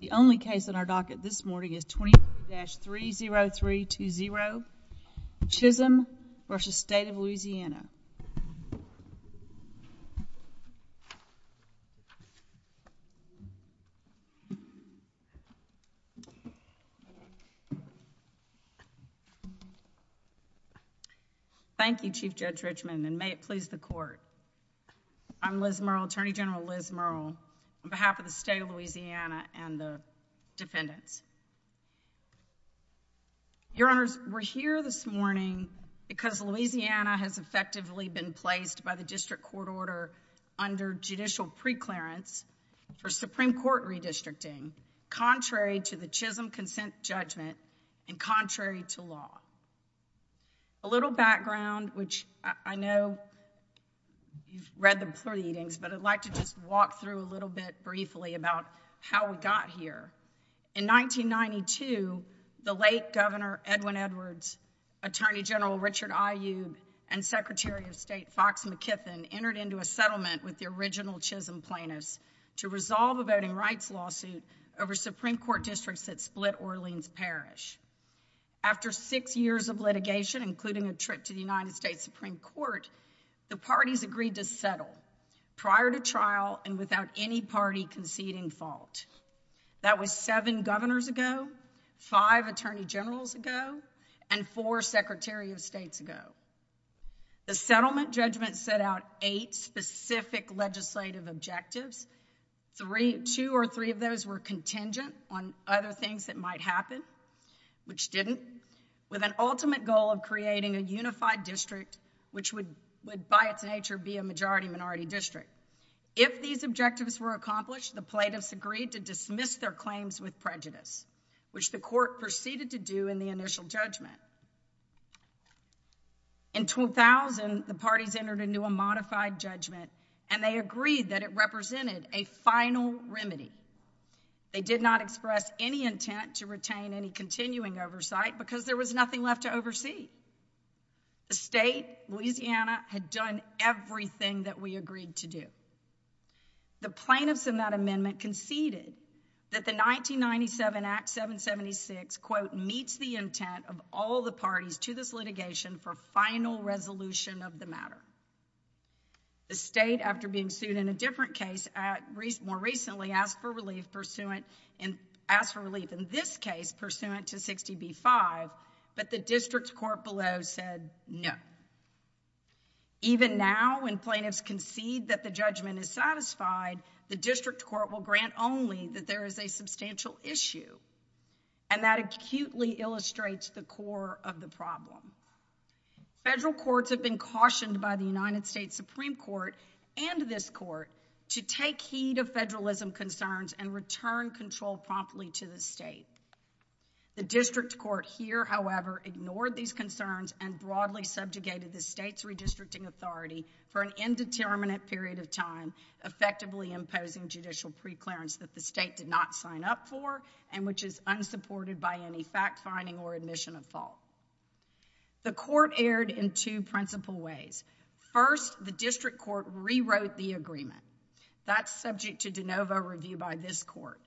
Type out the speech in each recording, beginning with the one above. The only case on our docket this morning is 21-30320, Chisom v. State of Louisiana. Thank you, Chief Judge Richmond, and may it please the Court, I'm Liz Merle, Attorney General Liz Merle, on behalf of the State of Louisiana and the defendants. Your Honors, we're here this morning because Louisiana has effectively been placed by the District Court order under judicial preclearance for Supreme Court redistricting, contrary to the Chisom Consent Judgment, and contrary to law. A little background, which I know you've read the proceedings, but I'd like to just walk through a little bit briefly about how we got here. In 1992, the late Governor Edwin Edwards, Attorney General Richard Aiyub, and Secretary of State Fox McKiffin entered into a settlement with the original Chisom plaintiffs to resolve a voting rights lawsuit over Supreme Court districts that split Orleans Parish. After six years of litigation, including a trip to the United States Supreme Court, the parties agreed to settle prior to trial and without any party conceding fault. That was seven governors ago, five attorney generals ago, and four Secretary of States ago. The settlement judgment set out eight specific legislative objectives. Two or three of those were contingent on other things that might happen, which didn't, with an ultimate goal of creating a unified district, which would, by its nature, be a majority-minority district. If these objectives were accomplished, the plaintiffs agreed to dismiss their claims with prejudice, which the court proceeded to do in the initial judgment. In 2000, the parties entered into a modified judgment, and they agreed that it represented a final remedy. They did not express any intent to retain any continuing oversight because there was nothing left to oversee. The state, Louisiana, had done everything that we agreed to do. The plaintiffs in that amendment conceded that the 1997 Act 776, quote, meets the intent of all the parties to this litigation for final resolution of the matter. The state, after being sued in a different case more recently, asked for relief in this case pursuant to 60B-5, but the district's court below said no. Even now, when plaintiffs concede that the judgment is satisfied, the district court will grant only that there is a substantial issue, and that acutely illustrates the core of the problem. Federal courts have been cautioned by the United States Supreme Court and this court to take heed of federalism concerns and return control promptly to the state. The district court here, however, ignored these concerns and broadly subjugated the state's redistricting authority for an indeterminate period of time, effectively imposing judicial preclearance that the state did not sign up for and which is unsupported by any fact-finding or admission of fault. The court erred in two principal ways. First, the district court rewrote the agreement. That's subject to de novo review by this court.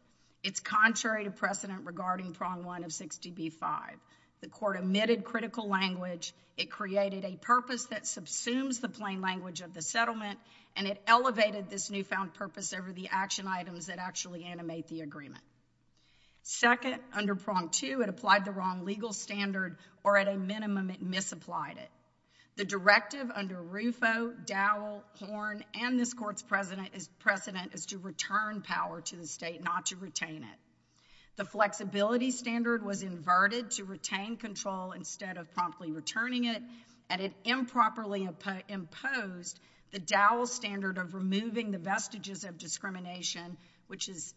It's contrary to precedent regarding Prong 1 of 60B-5. The court omitted critical language. It created a purpose that subsumes the plain language of the settlement, and it elevated this newfound purpose over the action items that actually animate the agreement. Second, under Prong 2, it applied the wrong legal standard, or at a minimum, it misapplied it. The directive under Rufo, Dowell, Horn, and this court's precedent is to return power to the state, not to retain it. The flexibility standard was inverted to retain control instead of promptly returning it, and it improperly imposed the Dowell standard of removing the vestiges of discrimination, which is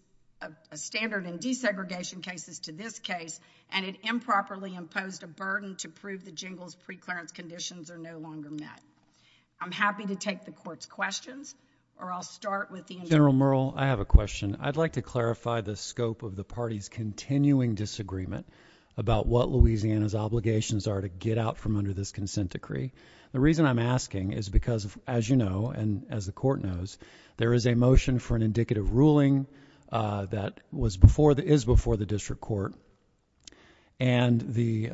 a standard in desegregation cases to this case, and it improperly imposed a burden to prove the jingles preclearance conditions are no longer met. I'm happy to take the court's questions, or I'll start with the individuals. General Merle, I have a question. I'd like to clarify the scope of the party's continuing disagreement about what Louisiana's obligations are to get out from under this consent decree. The reason I'm asking is because, as you know and as the court knows, there is a motion for an indicative ruling that is before the district court, and the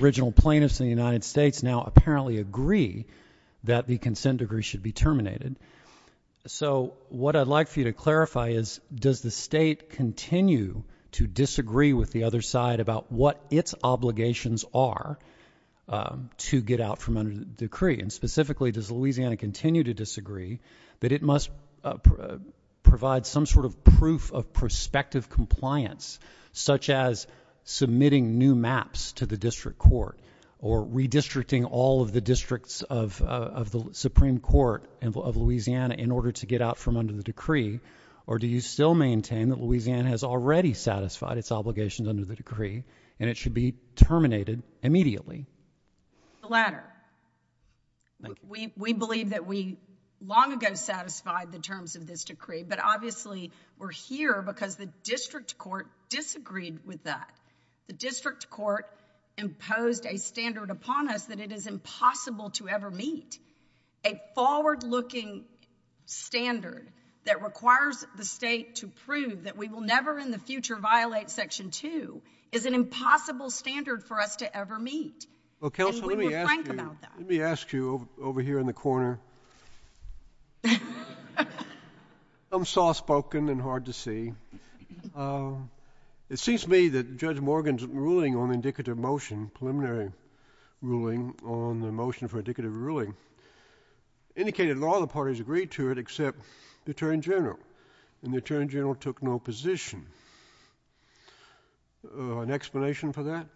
original plaintiffs in the United States now apparently agree that the consent decree should be terminated. So what I'd like for you to clarify is does the state continue to disagree with the other side about what its obligations are to get out from under the decree, and specifically does Louisiana continue to disagree that it must provide some sort of proof of prospective compliance, such as submitting new maps to the district court or redistricting all of the districts of the Supreme Court of Louisiana in order to get out from under the decree, or do you still maintain that Louisiana has already satisfied its obligations under the decree and it should be terminated immediately? The latter. We believe that we long ago satisfied the terms of this decree, but obviously we're here because the district court disagreed with that. The district court imposed a standard upon us that it is impossible to ever meet. A forward-looking standard that requires the state to prove that we will never in the future violate Section 2 is an impossible standard for us to ever meet. Okay, so let me ask you over here in the corner. I'm soft-spoken and hard to see. It seems to me that Judge Morgan's ruling on indicative motion, preliminary ruling on the motion for indicative ruling, indicated that all the parties agreed to it except the Attorney General, and the Attorney General took no position. An explanation for that?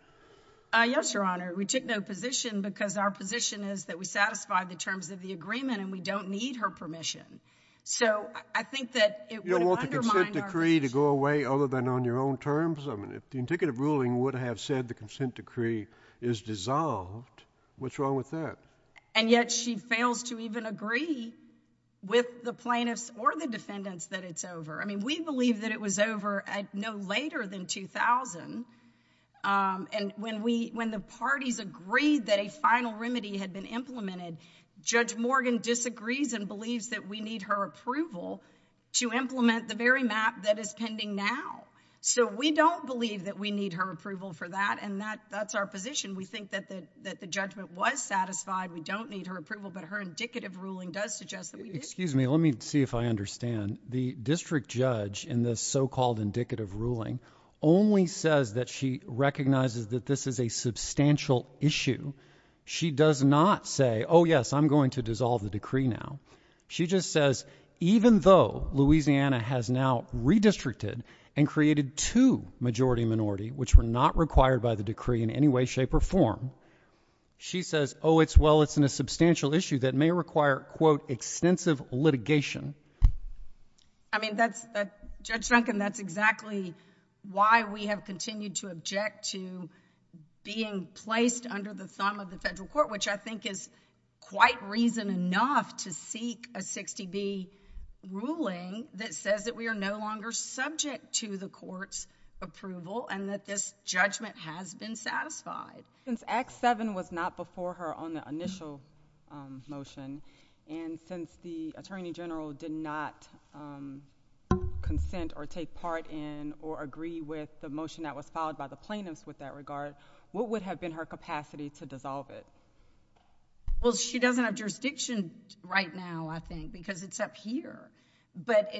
Yes, Your Honor. We took no position because our position is that we satisfied the terms of the agreement and we don't need her permission. So I think that it would undermine our… You don't want the consent decree to go away other than on your own terms? I mean, if the indicative ruling would have said the consent decree is dissolved, what's wrong with that? And yet she fails to even agree with the plaintiffs or the defendants that it's over. I mean, we believe that it was over no later than 2000, and when the parties agreed that a final remedy had been implemented, Judge Morgan disagrees and believes that we need her approval to implement the very map that is pending now. So we don't believe that we need her approval for that, and that's our position. We think that the judgment was satisfied. We don't need her approval, but her indicative ruling does suggest that we do. Excuse me. Let me see if I understand. The district judge in this so-called indicative ruling only says that she recognizes that this is a substantial issue. She does not say, oh, yes, I'm going to dissolve the decree now. She just says, even though Louisiana has now redistricted and created two majority-minority, which were not required by the decree in any way, shape, or form, she says, oh, well, it's a substantial issue that may require, quote, extensive litigation. I mean, Judge Duncan, that's exactly why we have continued to object to being placed under the sum of the federal court, which I think is quite reason enough to seek a 60-D ruling that says that we are no longer subject to the court's approval and that this judgment has been satisfied. Since Act 7 was not before her on the initial motion, and since the attorney general did not consent or take part in or agree with the motion that was filed by the plaintiffs with that regard, what would have been her capacity to dissolve it? Well, she doesn't have jurisdiction right now, I think, because it's up here. But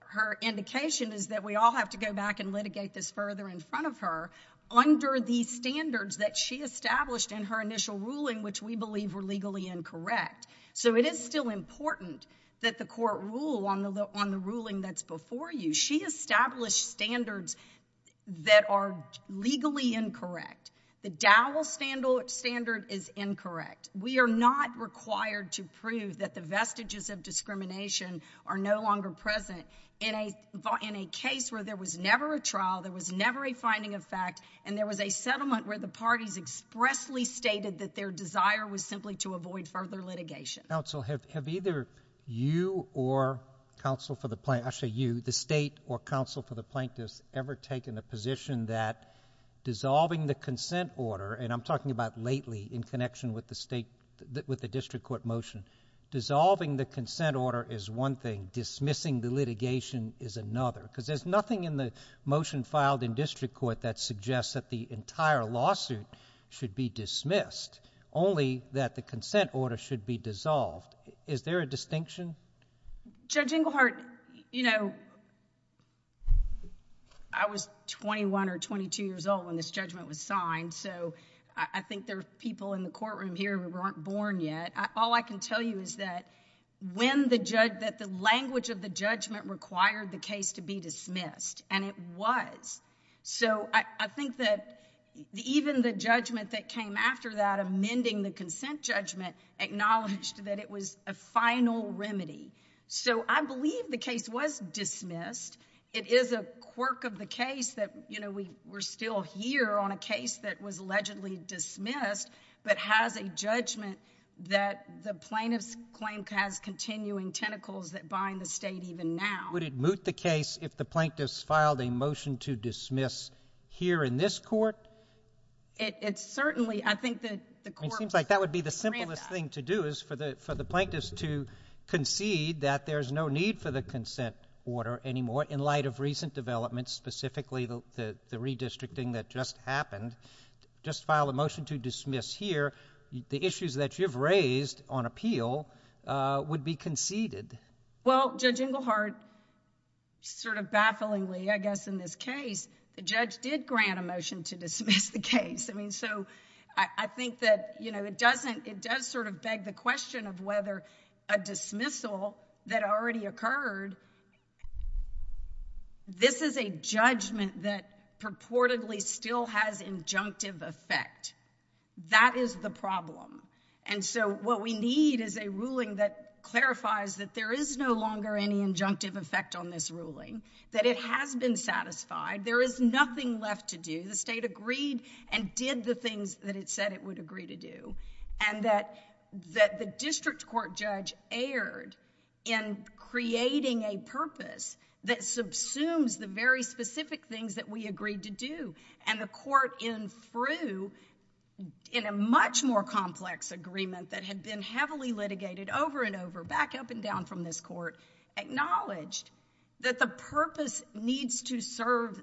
her indication is that we all have to go back and litigate this further in front of her under the standards that she established in her initial ruling, which we believe were legally incorrect. So it is still important that the court rule on the ruling that's before you. She established standards that are legally incorrect. The Dowell standard is incorrect. We are not required to prove that the vestiges of discrimination are no longer present. In a case where there was never a trial, there was never a finding of fact, and there was a settlement where the parties expressly stated that their desire was simply to avoid further litigation. Counsel, have either you or counsel for the plaintiffs ever taken the position that dissolving the consent order, and I'm talking about lately in connection with the district court motion, dissolving the consent order is one thing, dismissing the litigation is another, because there's nothing in the motion filed in district court that suggests that the entire lawsuit should be dismissed, only that the consent order should be dissolved. Is there a distinction? Judge Inglehart, you know, I was 21 or 22 years old when this judgment was signed, so I think there are people in the courtroom here who weren't born yet. All I can tell you is that the language of the judgment required the case to be dismissed, and it was. So I think that even the judgment that came after that, amending the consent judgment, acknowledged that it was a final remedy. So I believe the case was dismissed. It is a quirk of the case that, you know, we're still here on a case that was allegedly dismissed, but has a judgment that the plaintiffs claim to have continuing tentacles that bind the state even now. Would it moot the case if the plaintiffs filed a motion to dismiss here in this court? It certainly, I think that the court would grant that. What we're having to do is for the plaintiffs to concede that there's no need for the consent order anymore in light of recent developments, specifically the redistricting that just happened. Just file a motion to dismiss here. The issues that you've raised on appeal would be conceded. Well, Judge Inglehart, sort of bafflingly, I guess in this case, the judge did grant a motion to dismiss the case. I mean, so I think that, you know, it does sort of beg the question of whether a dismissal that already occurred, this is a judgment that purportedly still has injunctive effect. That is the problem. And so what we need is a ruling that clarifies that there is no longer any injunctive effect on this ruling, that it has been satisfied, there is nothing left to do. The state agreed and did the things that it said it would agree to do. And that the district court judge erred in creating a purpose that subsumes the very specific things that we agreed to do. And the court, in a much more complex agreement that had been heavily litigated over and over, back up and down from this court, acknowledged that the purpose needs to serve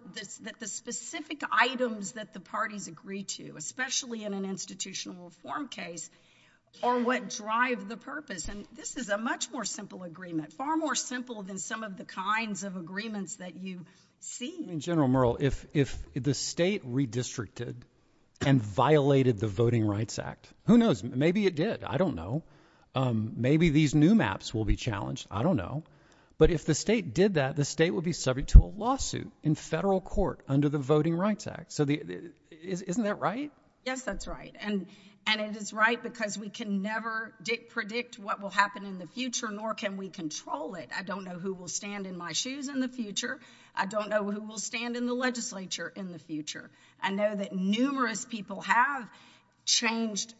the specific items that the parties agree to, especially in an institutional reform case, are what drive the purpose. And this is a much more simple agreement, far more simple than some of the kinds of agreements that you've seen. In general, Merle, if the state redistricted and violated the Voting Rights Act, who knows, maybe it did, I don't know. Maybe these new maps will be challenged. I don't know. But if the state did that, the state would be subject to a lawsuit in federal court under the Voting Rights Act. So isn't that right? Yes, that's right. And it is right because we can never predict what will happen in the future, nor can we control it. I don't know who will stand in my shoes in the future. I don't know who will stand in the legislature in the future. I know that numerous people have changed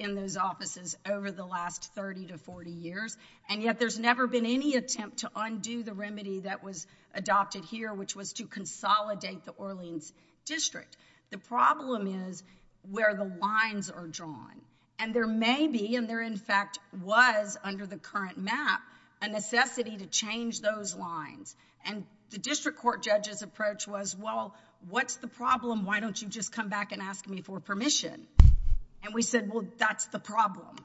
in those offices over the last 30 to 40 years, and yet there's never been any attempt to undo the remedy that was adopted here, which was to consolidate the Orleans district. The problem is where the lines are drawn. And there may be, and there in fact was under the current map, a necessity to change those lines. And the district court judge's approach was, well, what's the problem? Why don't you just come back and ask me for permission? And we said, well, that's the problem.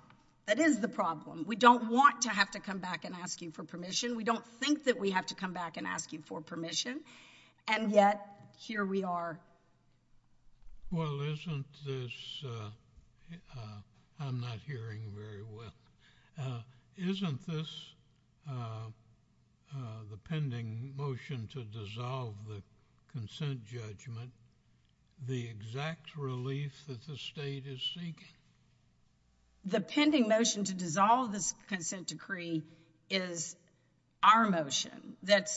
That is the problem. We don't want to have to come back and ask you for permission. We don't think that we have to come back and ask you for permission. And yet, here we are. Well, isn't this, I'm not hearing very well, isn't this the pending motion to dissolve the consent judgment the exact relief that the state is seeking? The pending motion to dissolve the consent decree is our motion that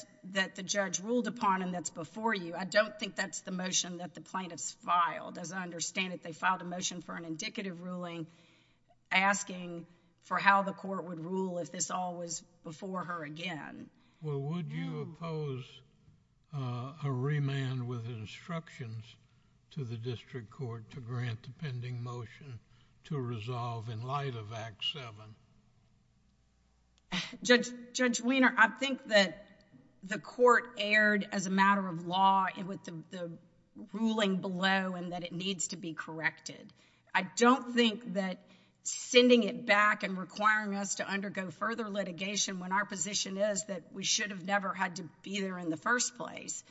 the judge ruled upon and that's before you. I don't think that's the motion that the plaintiffs filed. As I understand it, they filed a motion for an indicative ruling asking for how the court would rule if this all was before her again. Well, would you oppose a remand with instructions to the district court to grant the pending motion to resolve in light of Act 7? Judge Weiner, I think that the court erred as a matter of law with the ruling below and that it needs to be corrected. I don't think that sending it back and requiring us to undergo further litigation when our position is that we should have never had to be there in the first place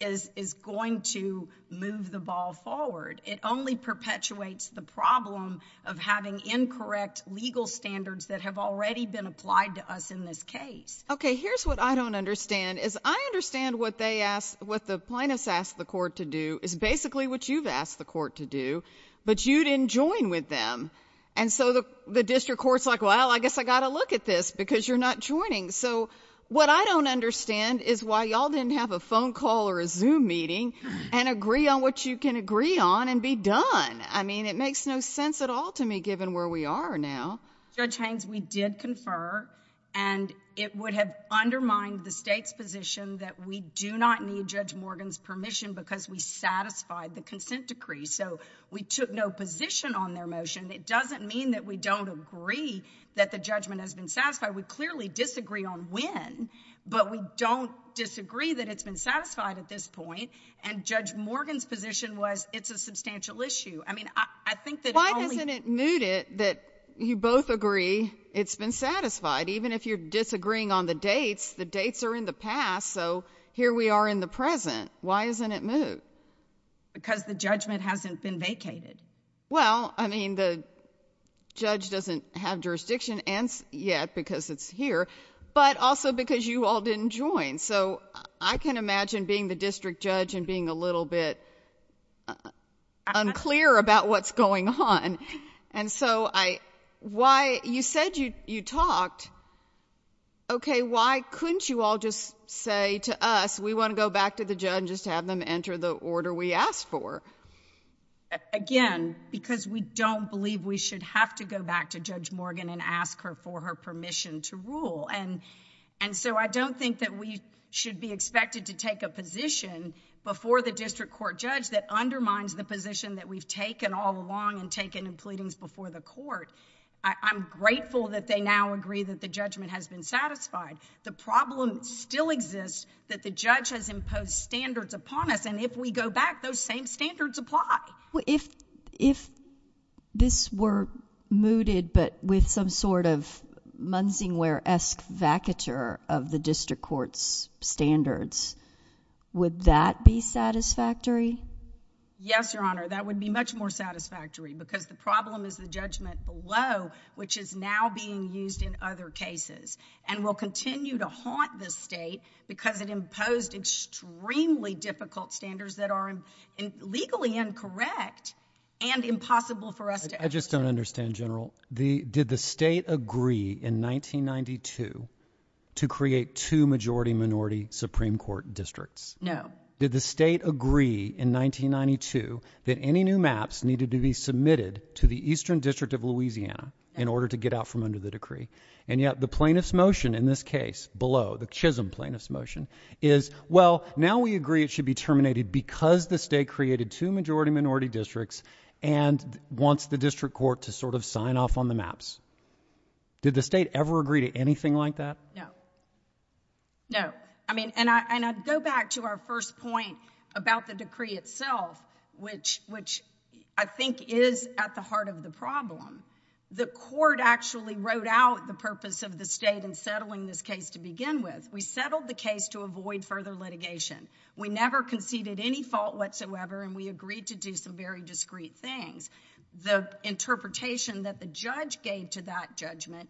is going to move the ball forward. It only perpetuates the problem of having incorrect legal standards that have already been applied to us in this case. Okay, here's what I don't understand. I understand what the plaintiffs asked the court to do is basically what you've asked the court to do, but you didn't join with them. And so the district court's like, well, I guess I've got to look at this because you're not joining. So what I don't understand is why y'all didn't have a phone call or a Zoom meeting and agree on what you can agree on and be done. I mean, it makes no sense at all to me given where we are now. Judge Haines, we did confer, and it would have undermined the state's position that we do not need Judge Morgan's permission because we satisfied the consent decree. So we took no position on their motion. It doesn't mean that we don't agree that the judgment has been satisfied. I would clearly disagree on when, but we don't disagree that it's been satisfied at this point. And Judge Morgan's position was it's a substantial issue. I mean, I think that only— Why hasn't it moved it that you both agree it's been satisfied? Even if you're disagreeing on the dates, the dates are in the past, so here we are in the present. Why hasn't it moved? Because the judgment hasn't been vacated. Well, I mean, the judge doesn't have jurisdiction yet because it's here, but also because you all didn't join. So I can imagine being the district judge and being a little bit unclear about what's going on. And so why—you said you talked. Okay, why couldn't you all just say to us we want to go back to the judge and just have them enter the order we asked for? Again, because we don't believe we should have to go back to Judge Morgan and ask her for her permission to rule. And so I don't think that we should be expected to take a position before the district court judge that undermines the position that we've taken all along and taken in pleadings before the court. I'm grateful that they now agree that the judgment has been satisfied. The problem still exists that the judge has imposed standards upon us, and if we go back, those same standards apply. If this were mooted but with some sort of Munsingware-esque vacature of the district court's standards, would that be satisfactory? Yes, Your Honor, that would be much more satisfactory because the problem is the judgment below, which is now being used in other cases, and will continue to haunt the state because it imposed extremely difficult standards that are legally incorrect and impossible for us to— I just don't understand, General. Did the state agree in 1992 to create two majority-minority Supreme Court districts? No. Did the state agree in 1992 that any new maps needed to be submitted to the Eastern District of Louisiana in order to get out from under the decree? And yet the plaintiff's motion in this case below, the Chisholm plaintiff's motion, is, well, now we agree it should be terminated because the state created two majority-minority districts and wants the district court to sort of sign off on the maps. Did the state ever agree to anything like that? No. No. And I go back to our first point about the decree itself, which I think is at the heart of the problem. The court actually wrote out the purpose of the state in settling this case to begin with. We settled the case to avoid further litigation. We never conceded any fault whatsoever, and we agreed to do some very discreet things. The interpretation that the judge gave to that judgment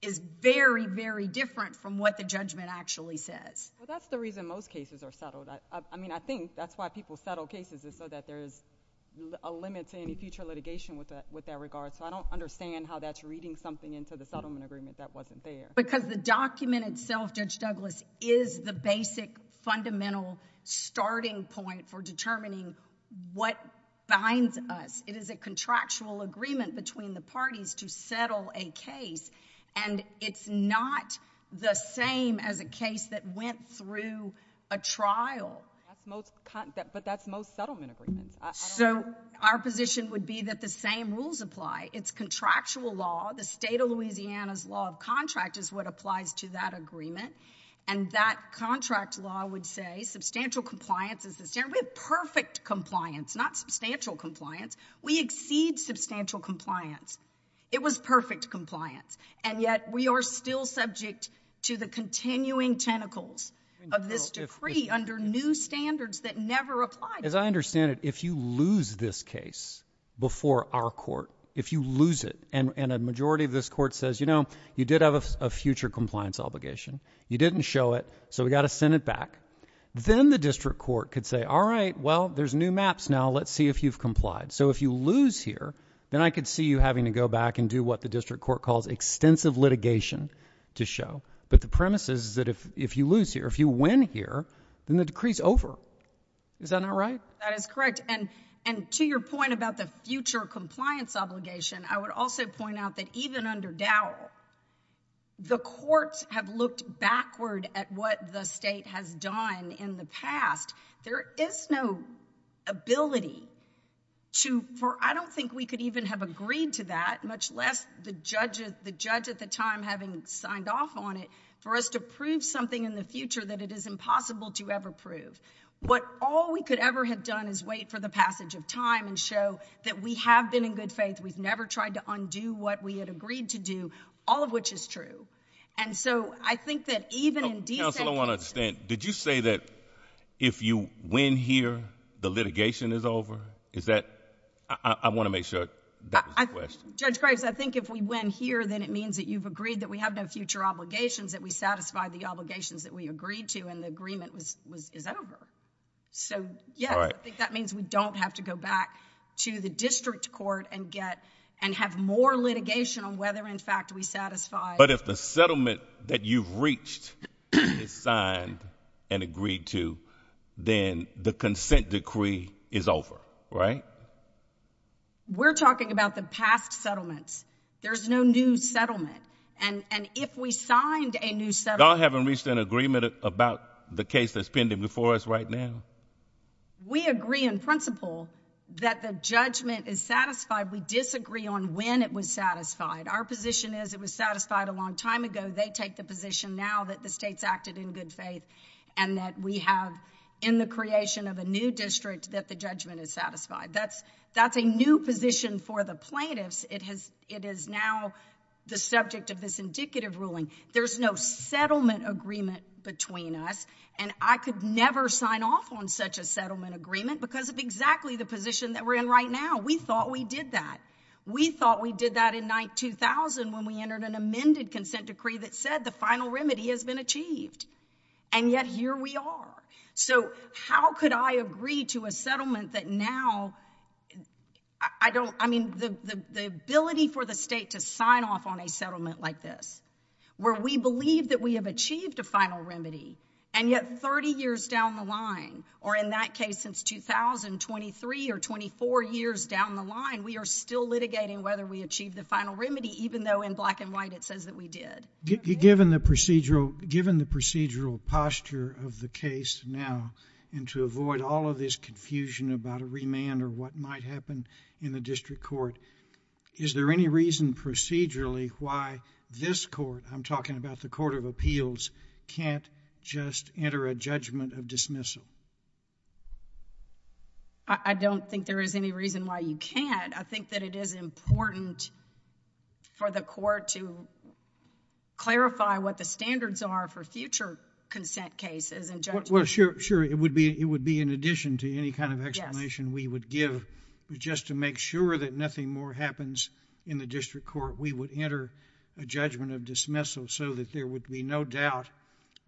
is very, very different from what the judgment actually says. Well, that's the reason most cases are settled. I mean, I think that's why people settle cases is so that there's a limit to any future litigation with that regard. So I don't understand how that's reading something into the settlement agreement that wasn't there. Because the document itself, Judge Douglas, is the basic fundamental starting point for determining what binds us. It is a contractual agreement between the parties to settle a case, and it's not the same as a case that went through a trial. But that's most settlement agreements. So our position would be that the same rules apply. It's contractual law. The state of Louisiana's law of contract is what applies to that agreement. And that contract law would say substantial compliance is the standard. We have perfect compliance, not substantial compliance. We exceed substantial compliance. It was perfect compliance. And yet we are still subject to the continuing tentacles of this decree under new standards that never apply. As I understand it, if you lose this case before our court, if you lose it, and a majority of this court says, you know, you did have a future compliance obligation. You didn't show it, so we've got to send it back. Then the district court could say, all right, well, there's new maps now. Let's see if you've complied. So if you lose here, then I could see you having to go back and do what the district court calls extensive litigation to show. But the premise is that if you lose here, if you win here, then the decree's over. Is that not right? That is correct. And to your point about the future compliance obligation, I would also point out that even under Dowell, the courts have looked backward at what the state has done in the past. There is no ability to, or I don't think we could even have agreed to that, much less the judge at the time having signed off on it, for us to prove something in the future that it is impossible to ever prove. But all we could ever have done is wait for the passage of time and show that we have been in good faith. We've never tried to undo what we had agreed to do, all of which is true. And so I think that even in these cases – Counsel, I want to understand. Did you say that if you win here, the litigation is over? Is that – I want to make sure that was the question. Judge Grace, I think if we win here, then it means that you've agreed that we have no future obligations, that we satisfy the obligations that we agreed to, and the agreement is over. So, yes, I think that means we don't have to go back to the district court and get – and have more litigation on whether, in fact, we satisfy – But if the settlement that you've reached is signed and agreed to, then the consent decree is over, right? We're talking about the past settlements. There's no new settlement. And if we signed a new settlement – Y'all haven't reached an agreement about the case that's pending before us right now? We agree in principle that the judgment is satisfied. We disagree on when it was satisfied. Our position is it was satisfied a long time ago. They take the position now that the state's acted in good faith and that we have in the creation of a new district that the judgment is satisfied. That's a new position for the plaintiffs. It is now the subject of this indicative ruling. There's no settlement agreement between us, and I could never sign off on such a settlement agreement because of exactly the position that we're in right now. We thought we did that. We thought we did that in 2000 when we entered an amended consent decree that said the final remedy has been achieved, and yet here we are. So how could I agree to a settlement that now – I mean, the ability for the state to sign off on a settlement like this where we believe that we have achieved a final remedy, and yet 30 years down the line, or in that case, since 2000, 23 or 24 years down the line, we are still litigating whether we achieved the final remedy, even though in black and white it says that we did. Given the procedural posture of the case now, and to avoid all of this confusion about a remand or what might happen in the district court, is there any reason procedurally why this court – I'm talking about the Court of Appeals – can't just enter a judgment of dismissal? I don't think there is any reason why you can't. I think that it is important for the court to clarify what the standards are for future consent cases and judgments. Well, sure, it would be in addition to any kind of explanation we would give. But just to make sure that nothing more happens in the district court, we would enter a judgment of dismissal so that there would be no doubt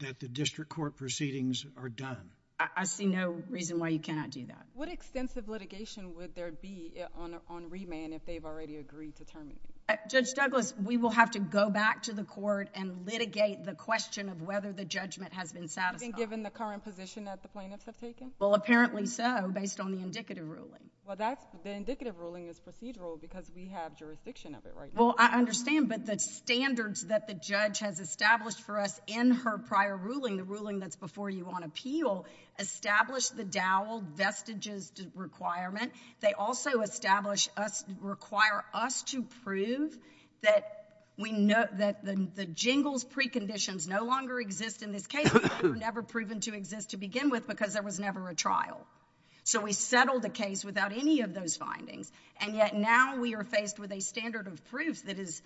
that the district court proceedings are done. I see no reason why you cannot do that. What extensive litigation would there be on remand if they've already agreed to terminate? Judge Douglas, we will have to go back to the court and litigate the question of whether the judgment has been satisfied. Has it been given the current position that the plaintiffs have taken? Well, apparently so, based on the indicative ruling. Well, the indicative ruling is procedural because we have jurisdiction of it right now. Well, I understand, but the standards that the judge has established for us in her prior ruling, the ruling that's before you on appeal, established the dowel vestiges requirement. They also require us to prove that the jingles preconditions no longer exist in this case because they were never proven to exist to begin with because there was never a trial. So we settled the case without any of those findings. And yet now we are faced with a standard of proof that is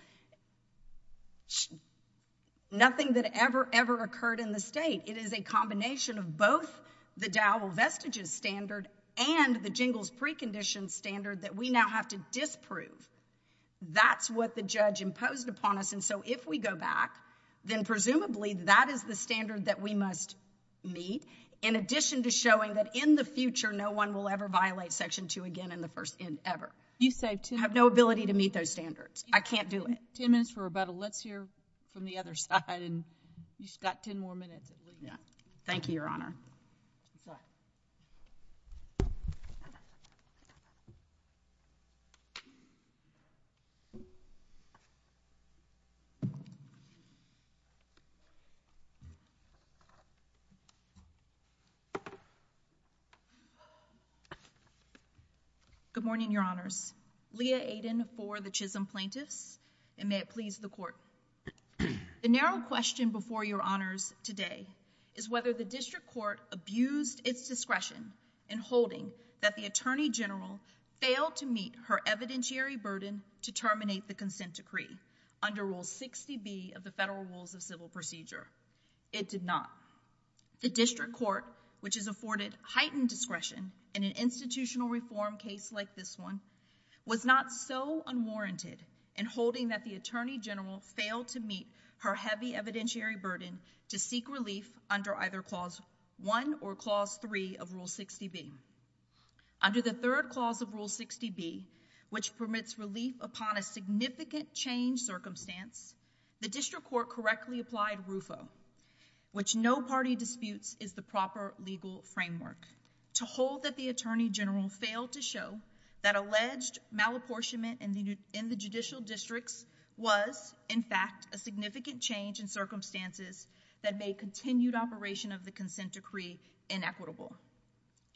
nothing that ever, ever occurred in the state. It is a combination of both the dowel vestiges standard and the jingles preconditions standard that we now have to disprove. That's what the judge imposed upon us. And so if we go back, then presumably that is the standard that we must meet in addition to showing that in the future no one will ever violate Section 2 again in the first instance ever. I have no ability to meet those standards. I can't do it. Ten minutes for about a left here from the other side. You've got ten more minutes. Thank you, Your Honor. Good morning, Your Honors. Leah Aiden for the Chisholm Plaintiffs, and may it please the Court. The narrow question before Your Honors today is whether the District Court abused its discretion in holding that the Attorney General failed to meet her evidentiary burden to terminate the consent decree under Rule 60B of the Federal Rules of Civil Procedure. It did not. The District Court, which has afforded heightened discretion in an institutional reform case like this one, was not so unwarranted in holding that the Attorney General failed to meet her heavy evidentiary burden to seek relief under either Clause 1 or Clause 3 of Rule 60B. Under the third clause of Rule 60B, which permits relief upon a significant change circumstance, the District Court correctly applied RUFO, which no party disputes is the proper legal framework, to hold that the Attorney General failed to show that alleged malapportionment in the judicial districts was, in fact, a significant change in circumstances that made continued operation of the consent decree inequitable.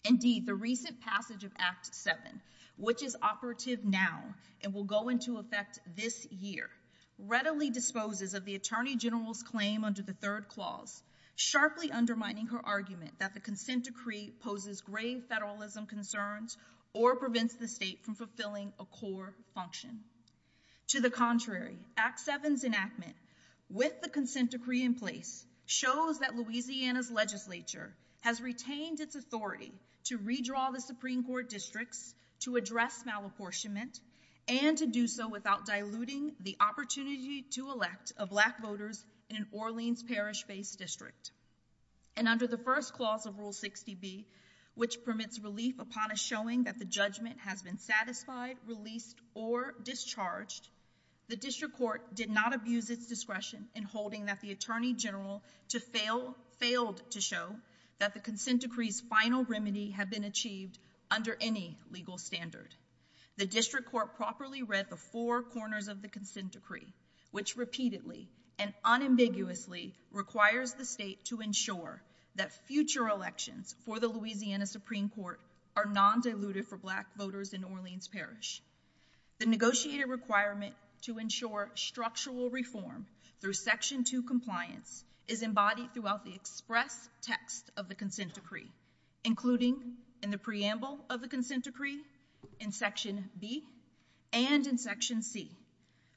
Indeed, the recent passage of Act 7, which is operative now and will go into effect this year, readily disposes of the Attorney General's claim under the third clause, sharply undermining her argument that the consent decree poses grave federalism concerns or prevents the state from fulfilling a core function. To the contrary, Act 7's enactment, with the consent decree in place, shows that Louisiana's legislature has retained its authority to redraw the Supreme Court districts to address malapportionment and to do so without diluting the opportunity to elect a Black voter in an Orleans Parish-based district. And under the first clause of Rule 60B, which permits relief upon a showing that the judgment has been satisfied, released, or discharged, the District Court did not abuse its discretion in holding that the Attorney General failed to show that the consent decree's final remedy had been achieved under any legal standard. The District Court properly read the four corners of the consent decree, which repeatedly and unambiguously requires the state to ensure that future elections for the Louisiana Supreme Court are non-diluted for Black voters in Orleans Parish. The negotiated requirement to ensure structural reform through Section 2 compliance is embodied throughout the express text of the consent decree, including in the preamble of the consent decree, in Section B, and in Section C,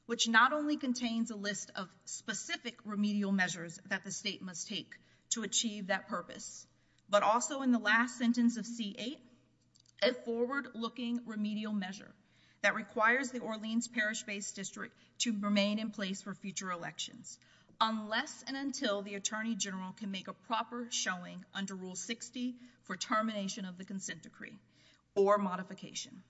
which not only contains a list of specific remedial measures that the state must take to achieve that purpose, but also in the last sentence of C-8, a forward-looking remedial measure that requires the Orleans Parish-based district to remain in place for future elections unless and until the Attorney General can make a proper showing under Rule 60 for termination of the consent decree or modification.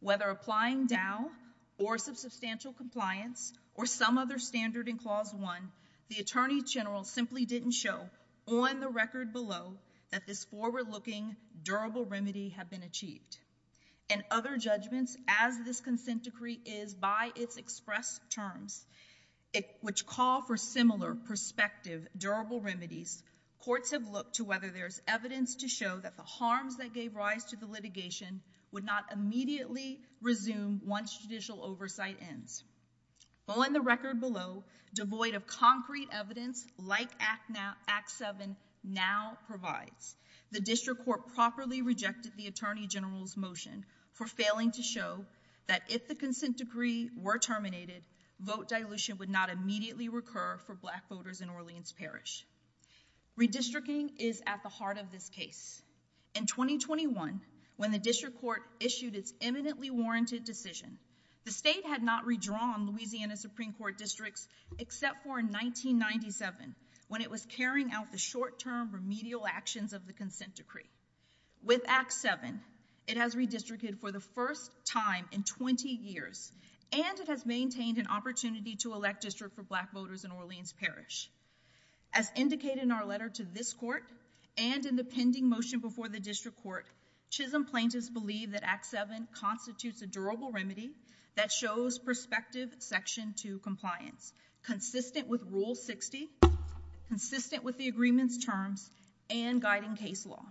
Whether applying DOW or substantial compliance or some other standard in Clause 1, the Attorney General simply didn't show on the record below that this forward-looking, durable remedy had been achieved. In other judgments, as this consent decree is by its express terms, which call for similar, prospective, durable remedies, courts have looked to whether there is evidence to show that the harms that gave rise to the litigation would not immediately resume once judicial oversight ends. On the record below, devoid of concrete evidence like Act 7 now provides, the District Court properly rejected the Attorney General's motion for failing to show that if the consent decree were terminated, vote dilution would not immediately recur for Black voters in Orleans Parish. Redistricting is at the heart of this case. In 2021, when the District Court issued its eminently warranted decision, the state had not redrawn Louisiana Supreme Court districts except for in 1997 when it was carrying out the short-term remedial actions of the consent decree. With Act 7, it has redistricted for the first time in 20 years and it has maintained an opportunity to elect districts for Black voters in Orleans Parish. As indicated in our letter to this court and in the pending motion before the District Court, Chisholm plaintiffs believe that Act 7 constitutes a durable remedy that shows prospective Section 2 compliance, consistent with Rule 60, consistent with the agreement's terms, and guiding case law.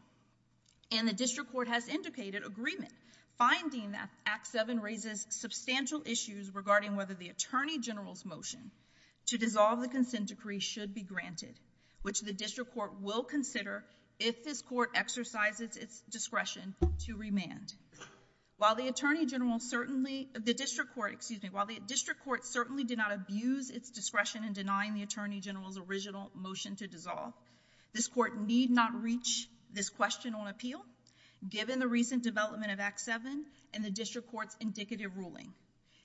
And the District Court has indicated agreement, finding that Act 7 raises substantial issues regarding whether the Attorney General's motion to dissolve the consent decree should be granted, which the District Court will consider if this court exercises its discretion to remand. While the District Court certainly did not abuse its discretion in denying the Attorney General's original motion to dissolve, this court need not reach this question on appeal given the recent development of Act 7 and the District Court's indicative ruling.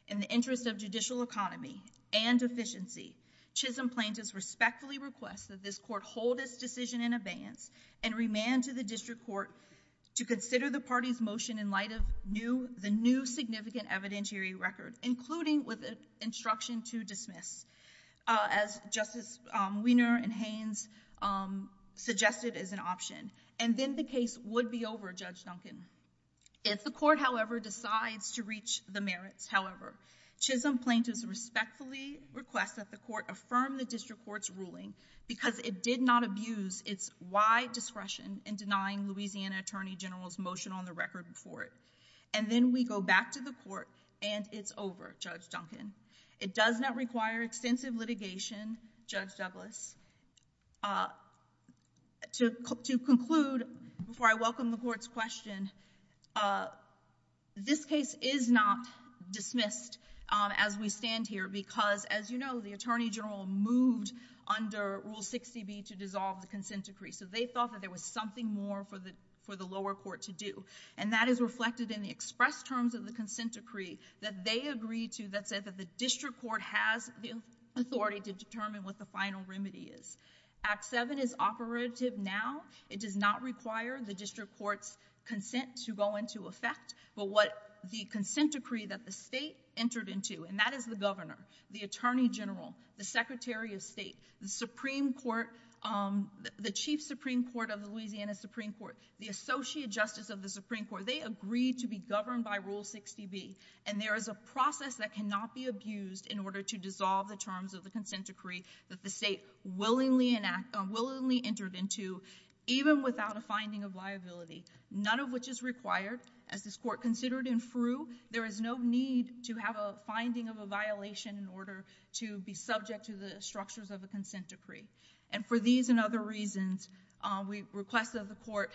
In the interest of judicial economy and efficiency, Chisholm plaintiffs respectfully request that this court hold its decision in abeyance and remand to the District Court to consider the party's motion in light of the new significant evidentiary record, including with its instruction to dismiss, as Justice Wiener and Haynes suggested as an option. And then the case would be over, Judge Duncan. If the court, however, decides to reach the merits, however, Chisholm plaintiffs respectfully request that the court affirm the District Court's ruling because it did not abuse its wide discretion in denying Louisiana Attorney General's motion on the record before it. And then we go back to the court, and it's over, Judge Duncan. It does not require extensive litigation, Judge Douglas. To conclude, before I welcome the court's question, this case is not dismissed as we stand here because, as you know, the Attorney General moved under Rule 60B to dissolve the Consent Decree. So they thought that there was something more for the lower court to do. And that is reflected in the express terms of the Consent Decree that they agreed to that said that the District Court has the authority to determine what the final remedy is. Act 7 is operative now. It does not require the District Court's consent to go into effect. But what the Consent Decree that the state entered into, and that is the Governor, the Attorney General, the Secretary of State, the Supreme Court, the Chief Supreme Court of the Louisiana Supreme Court, the Associate Justice of the Supreme Court, they agreed to be governed by Rule 60B. And there is a process that cannot be abused in order to dissolve the terms of the Consent Decree that the state willingly entered into, even without a finding of liability. None of which is required. As this court considered and threw, there is no need to have a finding of a violation in order to be subject to the structures of the Consent Decree. And for these and other reasons, we request that the court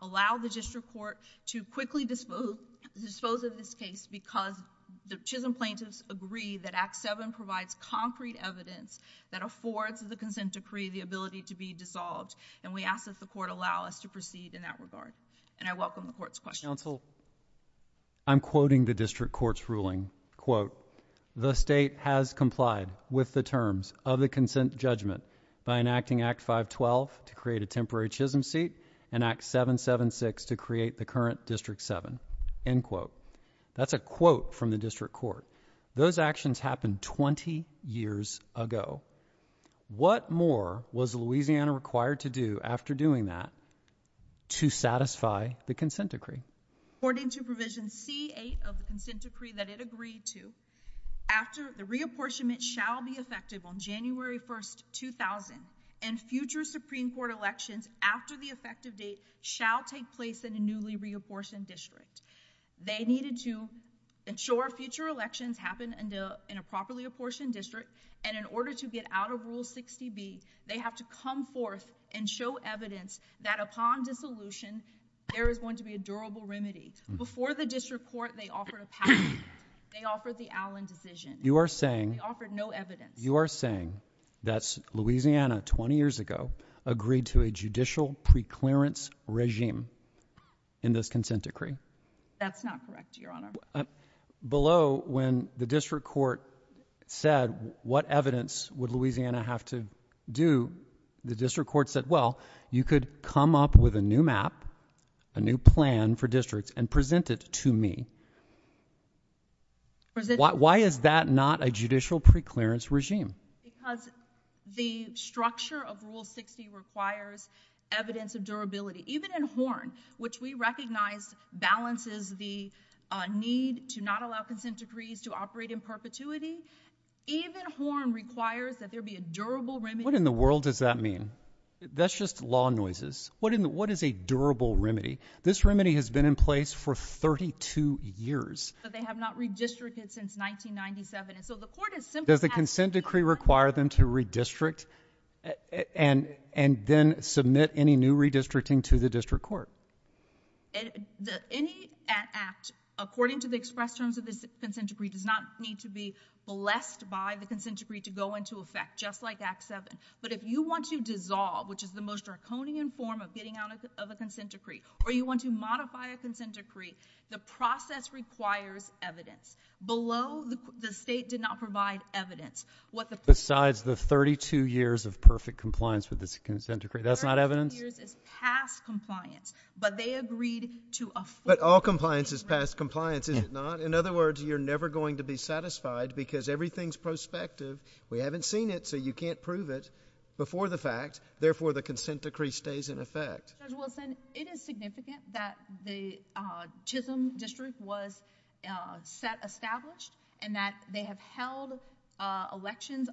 allow the District Court to quickly dispose of this case because the Chisholm plaintiffs agree that Act 7 provides concrete evidence that affords the Consent Decree the ability to be dissolved. And we ask that the court allow us to proceed in that regard. And I welcome the court's questions. Counsel, I'm quoting the District Court's ruling. Quote, The state has complied with the terms of the consent judgment by enacting Act 512 to create a temporary Chisholm seat and Act 776 to create the current District 7. End quote. That's a quote from the District Court. Those actions happened 20 years ago. What more was Louisiana required to do after doing that to satisfy the Consent Decree? According to Provision C-8 of the Consent Decree that it agreed to, the reapportionment shall be effective on January 1, 2000 and future Supreme Court elections after the effective date shall take place in a newly reapportioned district. They needed to ensure future elections happen in a properly apportioned district. And in order to get out of Rule 60B, they have to come forth and show evidence that upon dissolution, there is going to be a durable remedy. Before the District Court, they offered a patent. They offered the Allen decision. They offered no evidence. You are saying that Louisiana 20 years ago agreed to a judicial preclearance regime in this Consent Decree? That's not correct, Your Honor. Below, when the District Court said, what evidence would Louisiana have to do, the District Court said, well, you could come up with a new map, a new plan for districts, and present it to me. Why is that not a judicial preclearance regime? Because the structure of Rule 60 requires evidence of durability. Even in Horn, which we recognize balances the need to not allow Consent Decrees to operate in perpetuity, even Horn requires that there be a durable remedy. What in the world does that mean? That's just law noises. What is a durable remedy? This remedy has been in place for 32 years. But they have not redistricted since 1997. Does the Consent Decree require them to redistrict and then submit any new redistricting to the District Court? Any act, according to the expressions of the Consent Decree, does not need to be blessed by the Consent Decree to go into effect, just like Act 7. But if you want to dissolve, which is the most draconian form of getting out of a Consent Decree, or you want to modify a Consent Decree, the process requires evidence. Below, the State did not provide evidence. Besides the 32 years of perfect compliance with the Consent Decree, that's not evidence? The 32 years is past compliance, but they agreed to a full compliance. But all compliance is past compliance, is it not? In other words, you're never going to be satisfied because everything's prospective. We haven't seen it, so you can't prove it before the fact. Therefore, the Consent Decree stays in effect. It is significant that the Chisholm District was established and that they have held elections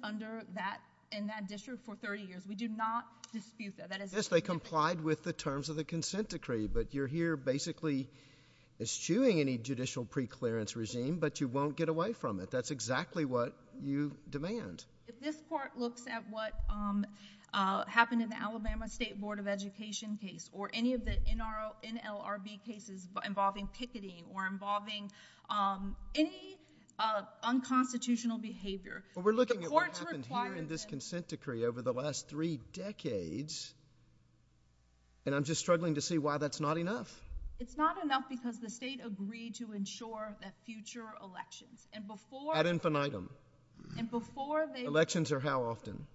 in that district for 30 years. We do not dispute that. Yes, they complied with the terms of the Consent Decree, but you're here basically eschewing any judicial preclearance regime, but you won't get away from it. That's exactly what you demand. But this part looks at what happened in the Alabama State Board of Education case or any of the NLRB cases involving picketing or involving any unconstitutional behavior. But we're looking at what happened here in this Consent Decree over the last three decades, and I'm just struggling to see why that's not enough. It's not enough because the state agreed to ensure that future elections. Ad infinitum. Elections are how often?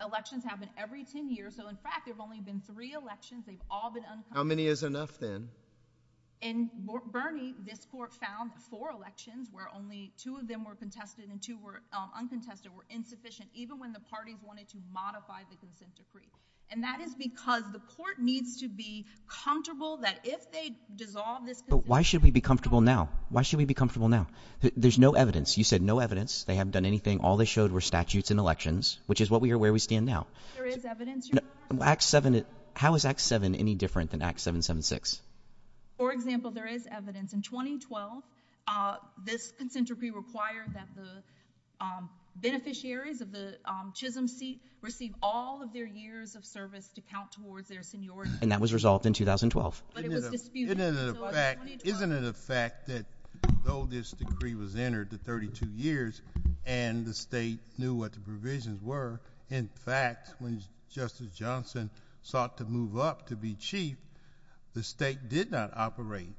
Elections happen every 10 years, so in fact there have only been three elections. How many is enough then? And, Bernie, this court found four elections where only two of them were contested and two were uncontested were insufficient even when the parties wanted to modify the Consent Decree. And that is because the court needs to be comfortable that if they dissolve this… Why should we be comfortable now? Why should we be comfortable now? There's no evidence. You said no evidence. They haven't done anything. All they showed were statutes and elections, which is where we stand now. There is evidence. How is Act 7 any different than Act 776? For example, there is evidence. In 2012, this Consent Decree required that the beneficiaries of the Chisholm seat receive all of their years of service to count towards their seniority. And that was resolved in 2012. Isn't it a fact that, though this decree was entered the 32 years and the state knew what the provisions were, in fact, when Justice Johnson sought to move up to be Chief, the state did not operate.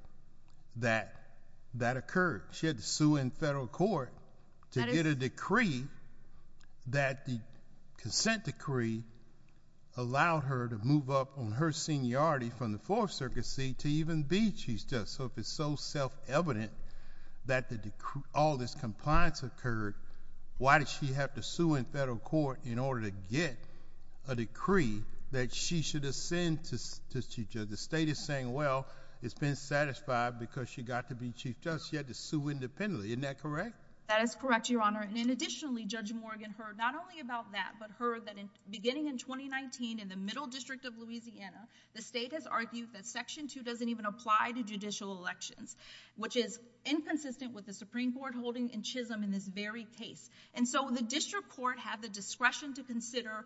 That occurred. She had to sue in federal court to get a decree that the Consent Decree allowed her to move up on her seniority from the Fourth Circuit seat to even be Chief Justice. So if it's so self-evident that all this compliance occurred, why did she have to sue in federal court in order to get a decree that she should ascend to Chief Justice? The state is saying, well, it's been satisfied because she got to be Chief Justice. She had to sue independently. Isn't that correct? That is correct, Your Honor. And additionally, Judge Morgan heard not only about that, but heard that beginning in 2019, in the Middle District of Louisiana, the state has argued that Section 2 doesn't even apply to judicial elections, which is inconsistent with the Supreme Court holding in Chisholm in this very case. And so the District Court had the discretion to consider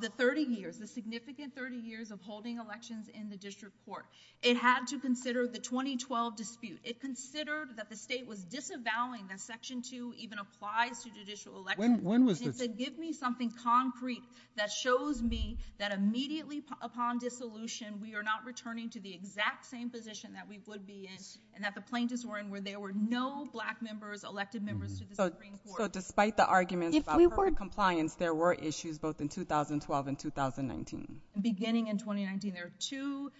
the 30 years, the significant 30 years of holding elections in the District Court. It had to consider the 2012 dispute. It considered that the state was disavowing that Section 2 even applied to judicial elections. When was this? And it said, give me something concrete that shows me that immediately upon dissolution, we are not returning to the exact same position that we would be in and that the plaintiffs were in So despite the argument about compliance, there were issues both in 2012 and 2019? Beginning in 2019. There are two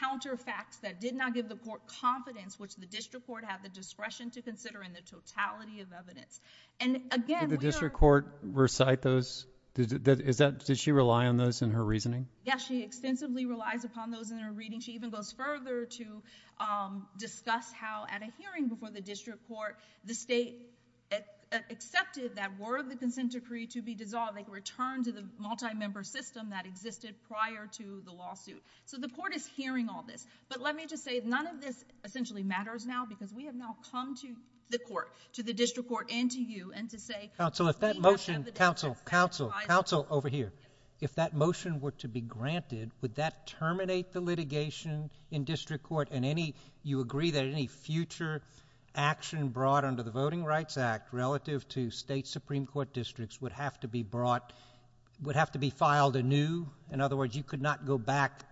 counter facts that did not give the court confidence, which the District Court had the discretion to consider in the totality of evidence. And again... Did the District Court recite those? Did she rely on those in her reasoning? Yes, she extensively relies upon those in her reading. She even goes further to discuss how at a hearing before the District Court, the state accepted that word of the consent decree to be dissolved and returned to the multi-member system that existed prior to the lawsuit. So the court is hearing all this. But let me just say, none of this essentially matters now because we have now come to the court, to the District Court and to you, and to say... Counsel, if that motion... Counsel, counsel, counsel over here. If that motion were to be granted, would that terminate the litigation in District Court and you agree that any future action brought under the Voting Rights Act relative to state Supreme Court districts would have to be brought... would have to be filed anew? In other words, you could not go back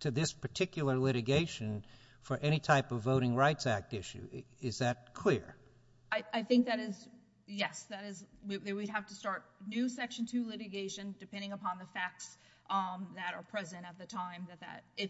to this particular litigation for any type of Voting Rights Act issue. Is that clear? I think that is... Yes. We'd have to start new Section 2 litigations depending upon the facts that are present at the time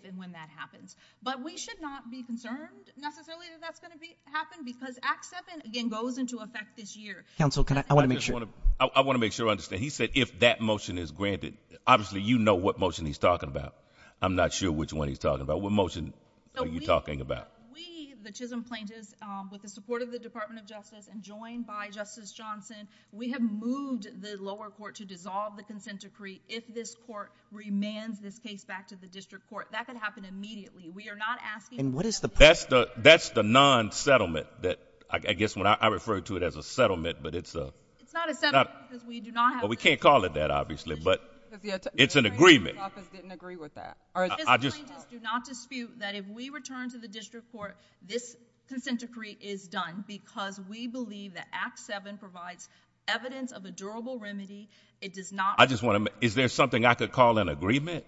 and when that happens. But we should not be concerned necessarily that that's going to happen because Act 7, again, goes into effect this year. Counsel, can I... I want to make sure... I want to make sure I understand. He said if that motion is granted. Obviously, you know what motion he's talking about. I'm not sure which one he's talking about. What motion are you talking about? We, the Chisholm plaintiffs, with the support of the Department of Justice and joined by Justice Johnson, we have moved the lower court to dissolve the consent decree if this court remands this case back to the District Court. That can happen immediately. We are not asking... And what is the... That's the non-settlement that... I guess when I refer to it as a settlement, but it's a... It's not a settlement because we do not have... Well, we can't call it that, obviously, but it's an agreement. I didn't agree with that. I just... The Chisholm plaintiffs do not dispute that if we return to the District Court, this consent decree is done because we believe that Act 7 provides evidence of a durable remedy. It does not... I just want to... Is there something I could call an agreement?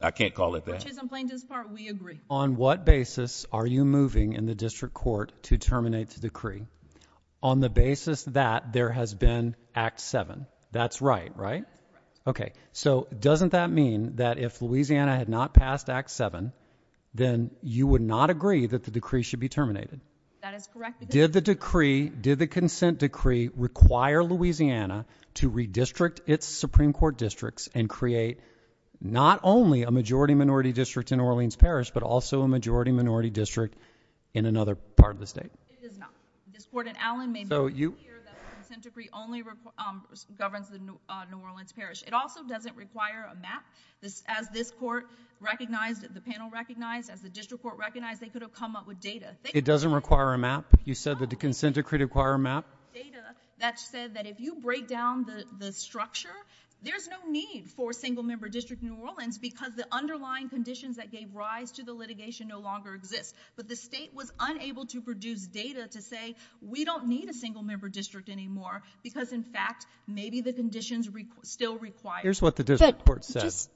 I can't call it that. The Chisholm plaintiffs' part, we agree. On what basis are you moving in the District Court to terminate the decree? On the basis that there has been Act 7. That's right, right? That's right. Okay, so doesn't that mean that if Louisiana had not passed Act 7, then you would not agree that the decree should be terminated? That is correct. Did the decree, did the consent decree, require Louisiana to redistrict its Supreme Court districts and create not only a majority-minority district in Orleans Parish, but also a majority-minority district in another part of the state? It did not. This Court in Allen made clear that the consent decree only governs New Orleans Parish. It also doesn't require a map. As this Court recognized, as the panel recognized, as the District Court recognized, they could have come up with data. It doesn't require a map? You said that the consent decree required a map? Data that said that if you break down the structure, there's no need for a single-member district in Orleans because the underlying conditions that gave rise to the litigation no longer exist. But the state was unable to produce data to say, we don't need a single-member district anymore because, in fact, maybe the conditions still require it. Here's what the District Court says.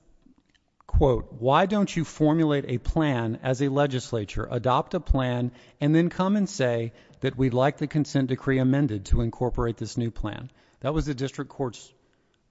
Quote, Why don't you formulate a plan as a legislature, adopt a plan, and then come and say that we'd like the consent decree amended to incorporate this new plan? That was the District Court's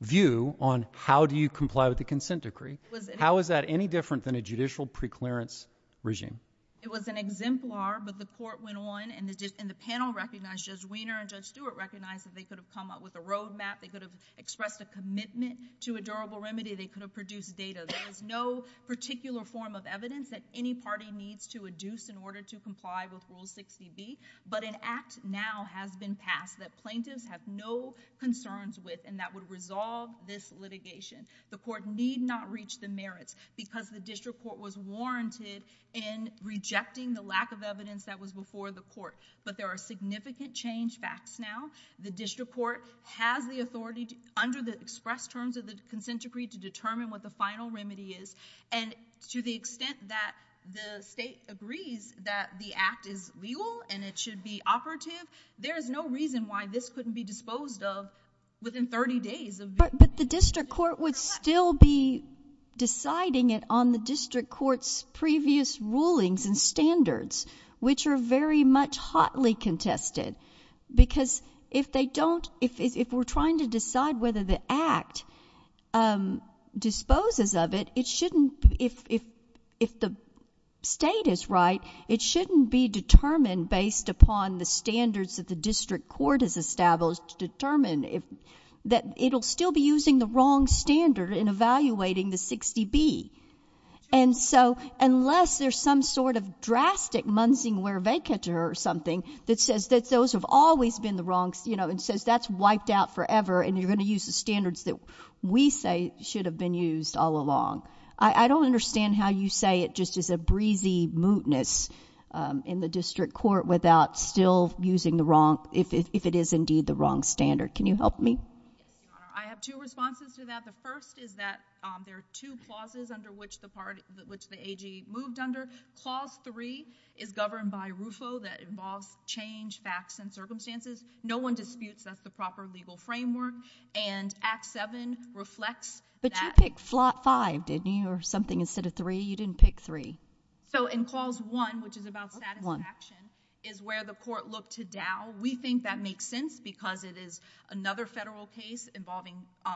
view on how do you comply with the consent decree. How is that any different than a judicial preclearance regime? It was an exemplar, but the Court went on, and the panel recognized, Judge Wiener and Judge Stewart recognized that they could have come up with a roadmap, they could have expressed a commitment to a durable remedy, they could have produced data. There is no particular form of evidence that any party needs to adduce in order to comply with Rule 60B, but an act now has been passed that plaintiffs have no concerns with and that would resolve this litigation. The Court need not reach the merits because the District Court was warranted in rejecting the lack of evidence that was before the Court, but there are significant change facts now. The District Court has the authority, under the expressed terms of the consent decree, to determine what the final remedy is, and to the extent that the state agrees that the act is legal and it should be operative, there is no reason why this couldn't be disposed of within 30 days. But the District Court would still be deciding it on the District Court's previous rulings and standards, which are very much hotly contested, because if they don't, if we're trying to decide whether the act disposes of it, it shouldn't, if the state is right, it shouldn't be determined based upon the standards that the District Court has established to determine that it'll still be using the wrong standard in evaluating the 60B. And so, unless there's some sort of drastic munching away vacature or something that says that those have always been the wrong, you know, and says that's wiped out forever and you're going to use the standards that we say should have been used all along. I don't understand how you say it just is a breezy mootness in the District Court without still using the wrong, if it is indeed the wrong standard. Can you help me? I have two responses to that. The first is that there are two clauses under which the AG moved under. Clause 3 is governed by RUFO, that involves change, facts, and circumstances. No one disputes that's the proper legal framework, and Act 7 reflects that. I picked 5, didn't you, or something instead of 3? You didn't pick 3. So, in Clause 1, which is about satisfaction, is where the court looked to DAO. We think that makes sense because it is another federal case involving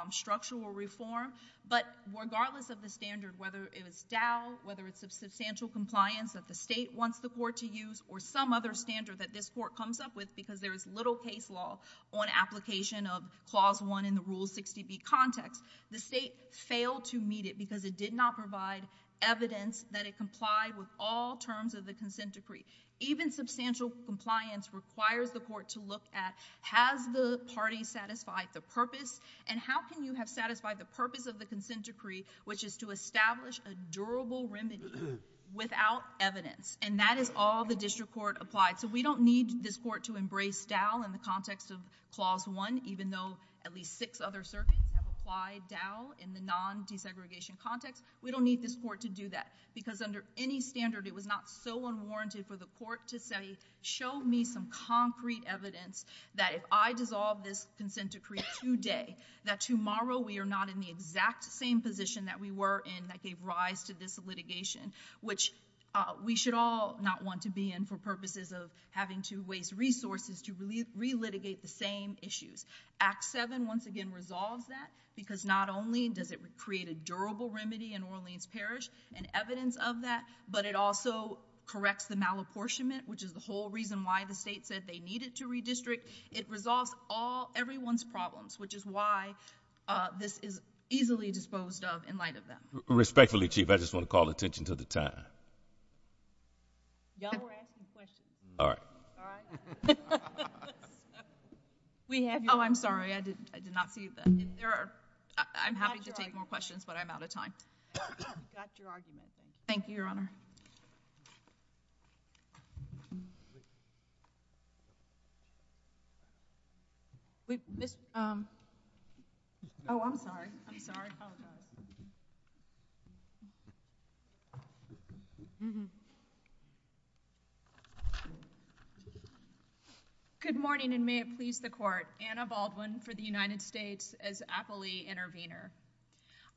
structural reform. But regardless of the standard, whether it is DAO, whether it's substantial compliance that the state wants the court to use or some other standard that this court comes up with because there's little case law on application of Clause 1 in the Rule 60B context, the state failed to meet it because it did not provide evidence that it complied with all terms of the Consent Decree. Even substantial compliance requires the court to look at has the party satisfied the purpose, and how can you have satisfied the purpose of the Consent Decree, which is to establish a durable remedy without evidence. And that is all the district court applied. So we don't need this court to embrace DAO in the context of Clause 1, even though at least six other circuits have applied DAO in the non-desegregation context. We don't need this court to do that because under any standard, it was not so unwarranted for the court to say, show me some concrete evidence that if I dissolve this Consent Decree today, that tomorrow we are not in the exact same position that we were in that gave rise to this litigation, which we should all not want to be in for purposes of having to waste resources to relitigate the same issues. Act 7, once again, resolves that because not only does it create a durable remedy in Orleans Parish and evidence of that, but it also corrects the malapportionment, which is the whole reason why the state said they needed to redistrict. It resolves everyone's problems, which is why this is easily disposed of in light of that. Respectfully, Chief, I just want to call attention to the time. Y'all were asking questions. All right. Oh, I'm sorry. I did not see that. I'm happy to take more questions, but I'm out of time. That's your argument. Thank you, Your Honor. Oh, I'm sorry. I'm sorry. Good morning, and may it please the Court. Anna Baldwin for the United States as appellee intervener.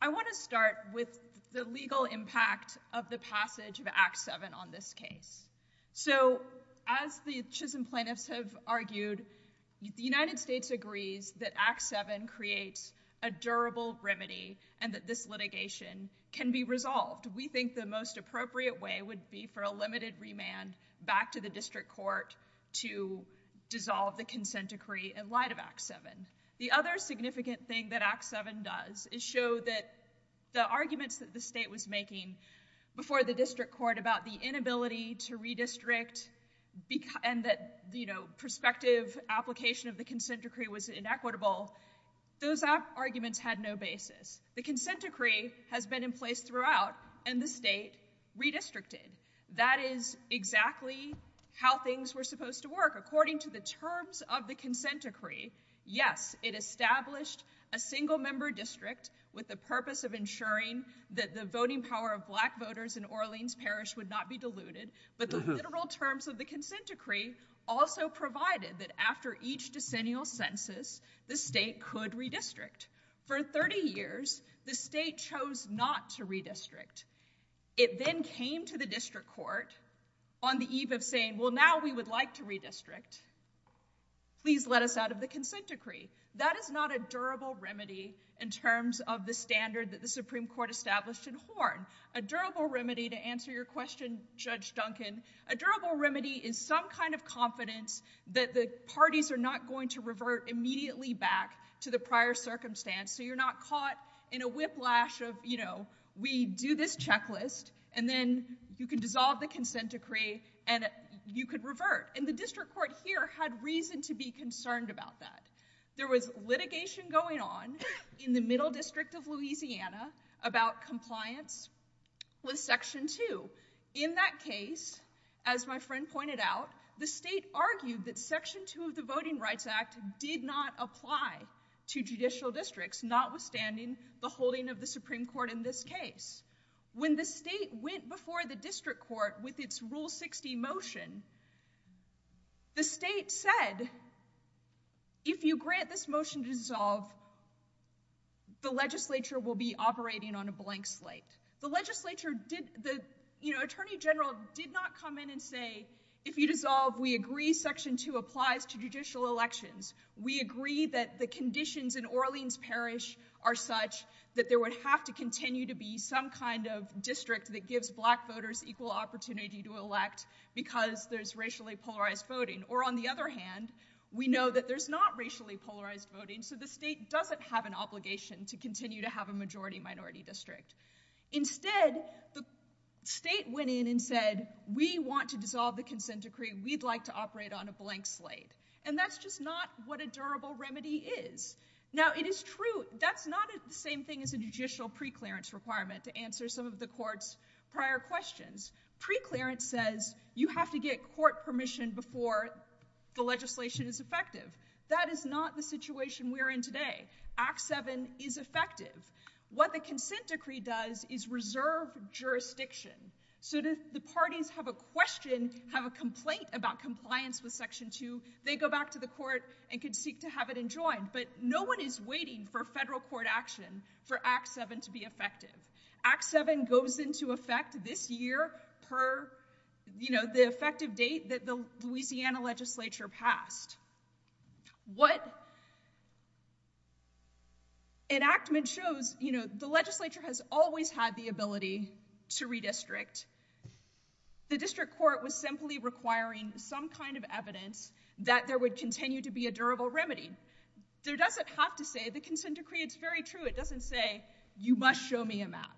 I want to start with the legal impact of the passage of Act 7 on this case. So as the Chisholm plaintiffs have argued, the United States agrees that Act 7 creates a durable remedy and that this litigation can be resolved. We think the most appropriate way would be for a limited remand back to the district court to dissolve the consent decree in light of Act 7. The other significant thing that Act 7 does is show that the arguments that the state was making before the district court about the inability to redistrict and that, you know, prospective application of the consent decree was inequitable, those arguments had no basis. The consent decree has been in place throughout, and the state redistricted. That is exactly how things were supposed to work. According to the terms of the consent decree, yes, it established a single-member district with the purpose of ensuring that the voting power of black voters in Orleans Parish would not be diluted, but the literal terms of the consent decree also provided that after each decennial census, the state could redistrict. For 30 years, the state chose not to redistrict. It then came to the district court on the eve of saying, well, now we would like to redistrict. Please let us out of the consent decree. That is not a durable remedy in terms of the standards that the Supreme Court established in Horn. A durable remedy, to answer your question, Judge Duncan, a durable remedy is some kind of confidence that the parties are not going to revert immediately back to the prior circumstance. So you're not caught in a whiplash of, you know, we do this checklist, and then you can dissolve the consent decree, and you could revert. And the district court here had reason to be concerned about that. There was litigation going on in the Middle District of Louisiana about compliance with Section 2. In that case, as my friend pointed out, the state argued that Section 2 of the Voting Rights Act did not apply to judicial districts, notwithstanding the holding of the Supreme Court in this case. When the state went before the district court with its Rule 60 motion, the state said, if you grant this motion to dissolve, the legislature will be operating on a blank slate. The legislature did, you know, Attorney General did not come in and say, if you dissolve, we agree Section 2 applies to judicial elections. We agree that the conditions in Orleans Parish are such that there would have to continue to be some kind of district that gives black voters equal opportunity to elect because there's racially polarized voting. Or on the other hand, we know that there's not racially polarized voting, so the state doesn't have an obligation to continue to have a majority-minority district. Instead, the state went in and said, we want to dissolve the consent decree. We'd like to operate on a blank slate. And that's just not what a durable remedy is. Now, it is true, that's not the same thing as a judicial preclearance requirement to answer some of the court's prior questions. Preclearance says you have to get court permission before the legislation is effective. That is not the situation we're in today. Act 7 is effective. What the consent decree does is reserve jurisdiction. So does the parties have a question, have a complaint about compliance with Section 2, they go back to the court and can seek to have it enjoined. But no one is waiting for federal court action for Act 7 to be effective. Act 7 goes into effect this year per the effective date that the Louisiana legislature passed. What it actually shows, the legislature has always had the ability to redistrict. The district court was simply requiring some kind of evidence that there would continue to be a durable remedy. There doesn't have to say, the consent decree, it's very true. It doesn't say, you must show me a map.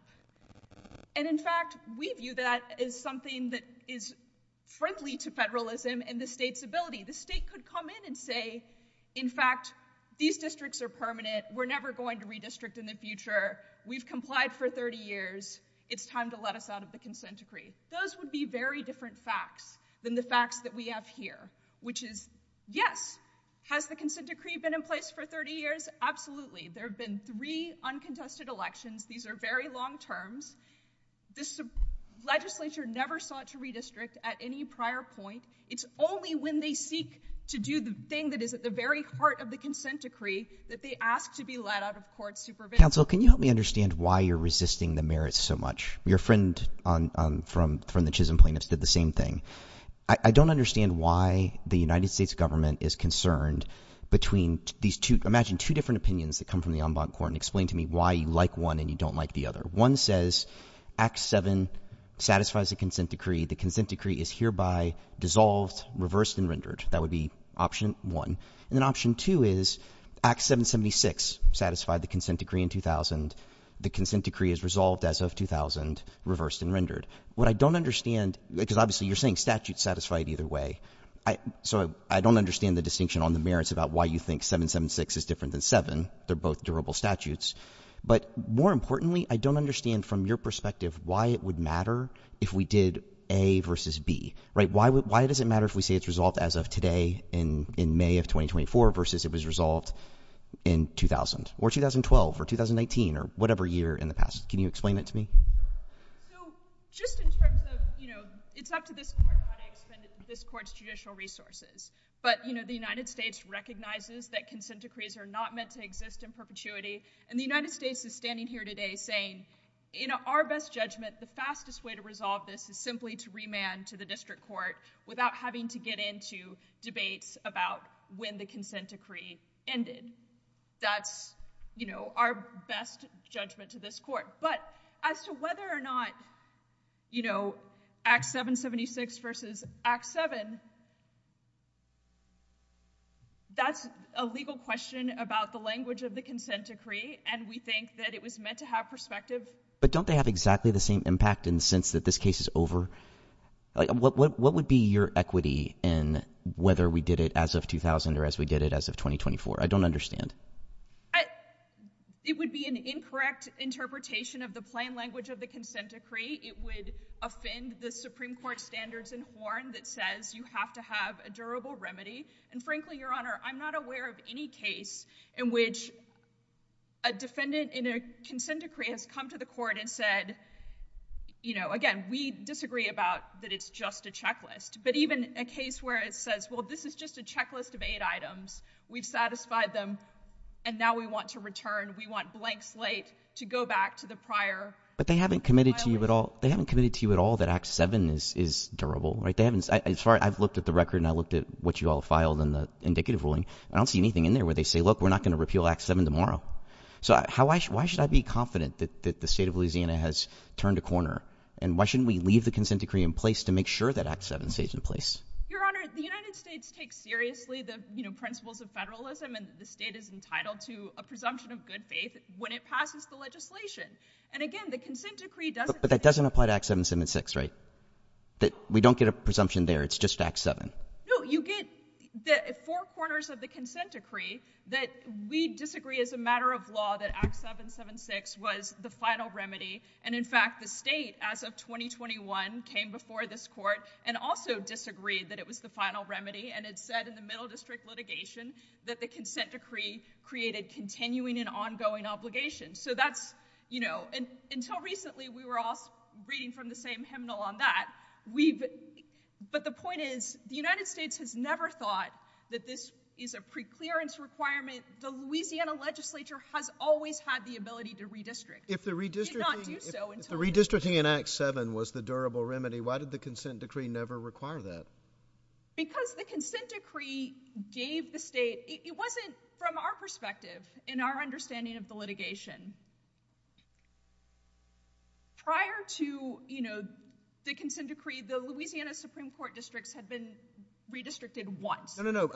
And in fact, we view that as something that is friendly to federalism and the state's ability. The state could come in and say, in fact, these districts are permanent. We're never going to redistrict in the future. We've complied for 30 years. It's time to let us out of the consent decree. Those would be very different facts than the facts that we have here, which is, yes, has the consent decree been in place for 30 years? Absolutely. There have been three uncontested elections. These are very long terms. The legislature never sought to redistrict at any prior point. It's only when they seek to do the thing that is at the very heart of the consent decree that they ask to be let out of court supervision. Counsel, can you help me understand why you're resisting the merits so much? Your friend from the Chisholm plaintiffs did the same thing. I don't understand why the United States government is concerned between these two, imagine two different opinions that come from the ombud court and explain to me why you like one and you don't like the other. One says, Act 7 satisfies the consent decree. The consent decree is hereby dissolved, reversed, and rendered. That would be option one. And then option two is, Act 776 satisfied the consent decree in 2000. The consent decree is resolved as of 2000, reversed, and rendered. What I don't understand, because obviously you're saying statutes satisfy it either way, so I don't understand the distinction on the merits about why you think 776 is different than 7. They're both durable statutes. But more importantly, I don't understand from your perspective why it would matter if we did A versus B. Why does it matter if we say it's resolved as of today in May of 2024 versus it was resolved in 2000, or 2012, or 2018, or whatever year in the past? Can you explain that to me? So just in terms of, it's up to this court how to extend this court's judicial resources. But the United States recognizes that consent decrees are not meant to exist in perpetuity. And the United States is standing here today saying, in our best judgment, the fastest way to resolve this is simply to remand to the district court without having to get into debates about when the consent decree ended. That's our best judgment to this court. But as to whether or not Act 776 versus Act 7, that's a legal question about the language of the consent decree, and we think that it was meant to have perspective. But don't they have exactly the same impact in the sense that this case is over? What would be your equity in whether we did it as of 2000 or as we did it as of 2024? I don't understand. It would be an incorrect interpretation of the plain language of the consent decree. It would offend the Supreme Court standards in horn that says you have to have a durable remedy. And frankly, Your Honor, I'm not aware of any case in which a defendant in a consent decree has come to the court and said, again, we disagree about that it's just a checklist. But even a case where it says, well, this is just a checklist of eight items. We've satisfied them, and now we want to return. We want blank slate to go back to the prior. But they haven't committed to you at all that Act 7 is durable. I've looked at the record, and I looked at what you all filed in the indicative ruling. I don't see anything in there where they say, look, we're not going to repeal Act 7 tomorrow. So why should I be confident that the state of Louisiana has turned a corner? And why shouldn't we leave the consent decree in place to make sure that Act 7 stays in place? Your Honor, the United States takes seriously the principles of federalism and the state is entitled to a presumption of good faith when it passes the legislation. And again, the consent decree doesn't. But that doesn't apply to Act 776, right? We don't get a presumption there. It's just Act 7. No, you get the four corners of the consent decree that we disagree as a matter of law that Act 776 was the final remedy. And in fact, the state, as of 2021, came before this court and also disagreed that it was the final remedy. And it said in the Middle District litigation that the consent decree created continuing and ongoing obligations. Until recently, we were all reading from the same hymnal on that. But the point is, the United States has never thought that this is a preclearance requirement. The Louisiana legislature has always had the ability to redistrict. If the redistricting in Act 7 was the durable remedy, why did the consent decree never require that? Because the consent decree gave the state, it wasn't from our perspective, in our understanding of the litigation. Prior to the consent decree, the Louisiana Supreme Court districts had been redistricted once. No, no, no.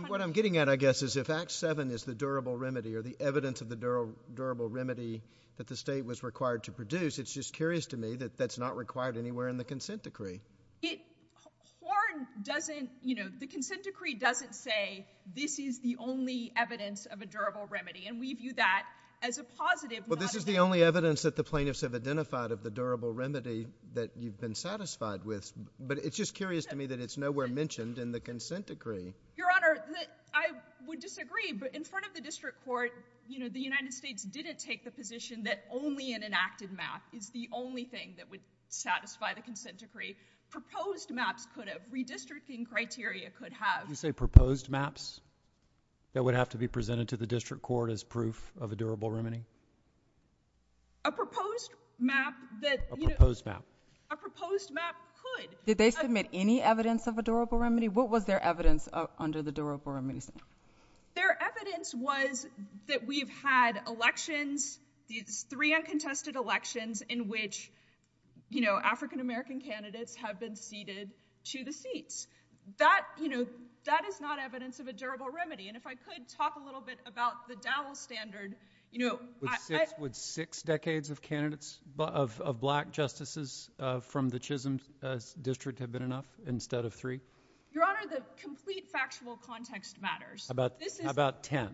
What I'm getting at, I guess, is if Act 7 is the durable remedy or the evidence of the durable remedy that the state was required to produce, it's just curious to me that that's not required anywhere in the consent decree. The consent decree doesn't say this is the only evidence of a durable remedy and leave you that as a positive. Well, this is the only evidence that the plaintiffs have identified of the durable remedy that you've been satisfied with. But it's just curious to me that it's nowhere mentioned in the consent decree. Your Honor, I would disagree. But in front of the district court, the United States didn't take the position that only an enacted map is the only thing that would satisfy the consent decree. Proposed maps could have. Redistricting criteria could have. Did you say proposed maps that would have to be presented to the district court as proof of a durable remedy? A proposed map that, you know. A proposed map. A proposed map could. Did they submit any evidence of a durable remedy? What was their evidence under the durable remedy? Their evidence was that we've had elections, these three uncontested elections, in which, you know, African-American candidates have been seated to the seat. That, you know, that is not evidence of a durable remedy. And if I could talk a little bit about the ballot standard, you know. Would six decades of candidates, of black justices from the Chisholm district have been enough instead of three? Your Honor, the complete factual context matters. How about 10? Is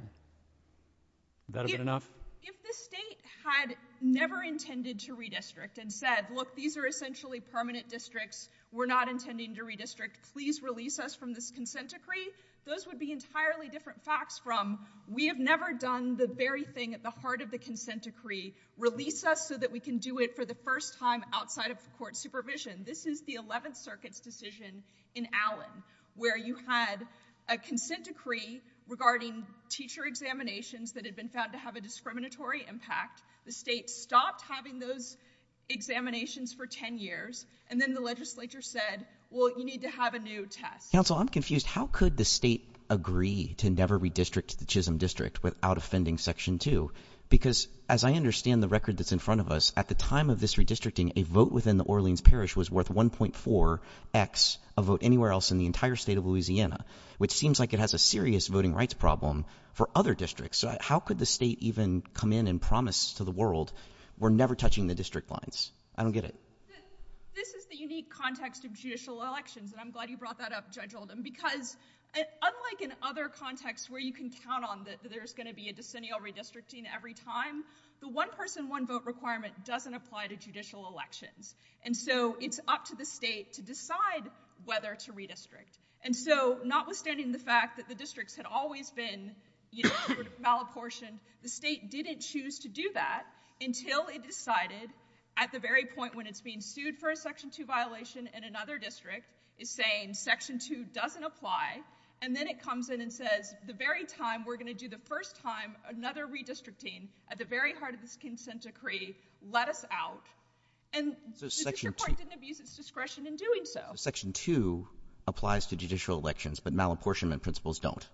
that a bit enough? If the state had never intended to redistrict and said, look, these are essentially permanent districts. We're not intending to redistrict. Please release us from this consent decree. Those would be entirely different facts from, we have never done the very thing at the heart of the consent decree. Release us so that we can do it for the first time outside of court supervision. This is the 11th Circuit's decision in Allen, where you had a consent decree regarding teacher examinations that had been found to have a discriminatory impact. The state stopped having those examinations for 10 years. And then the legislature said, well, you need to have a new test. Counsel, I'm confused. How could the state agree to never redistrict the Chisholm district without offending Section 2? Because as I understand the record that's in front of us, at the time of this redistricting, a vote within the Orleans Parish was worth 1.4x a vote anywhere else in the entire state of Louisiana, which seems like it has a serious voting rights problem for other districts. How could the state even come in and promise to the world, we're never touching the district lines? I don't get it. This is the unique context of judicial elections. And I'm glad you brought that up, Judge Holden. Because unlike in other contexts where you can count on that there's going to be a decennial redistricting every time, the one-person, one-vote requirement doesn't apply to judicial elections. And so it's up to the state to decide whether to redistrict. And so notwithstanding the fact that the districts had always been malapportioned, the state didn't choose to do that until it decided at the very point when it's being sued for a Section 2 violation in another district, it's saying Section 2 doesn't apply. And then it comes in and says, the very time we're going to do the first time another redistricting at the very heart of this consent decree, let us out. And the district court didn't abuse its discretion in doing so. Section 2 applies to judicial elections, but malapportionment principles don't.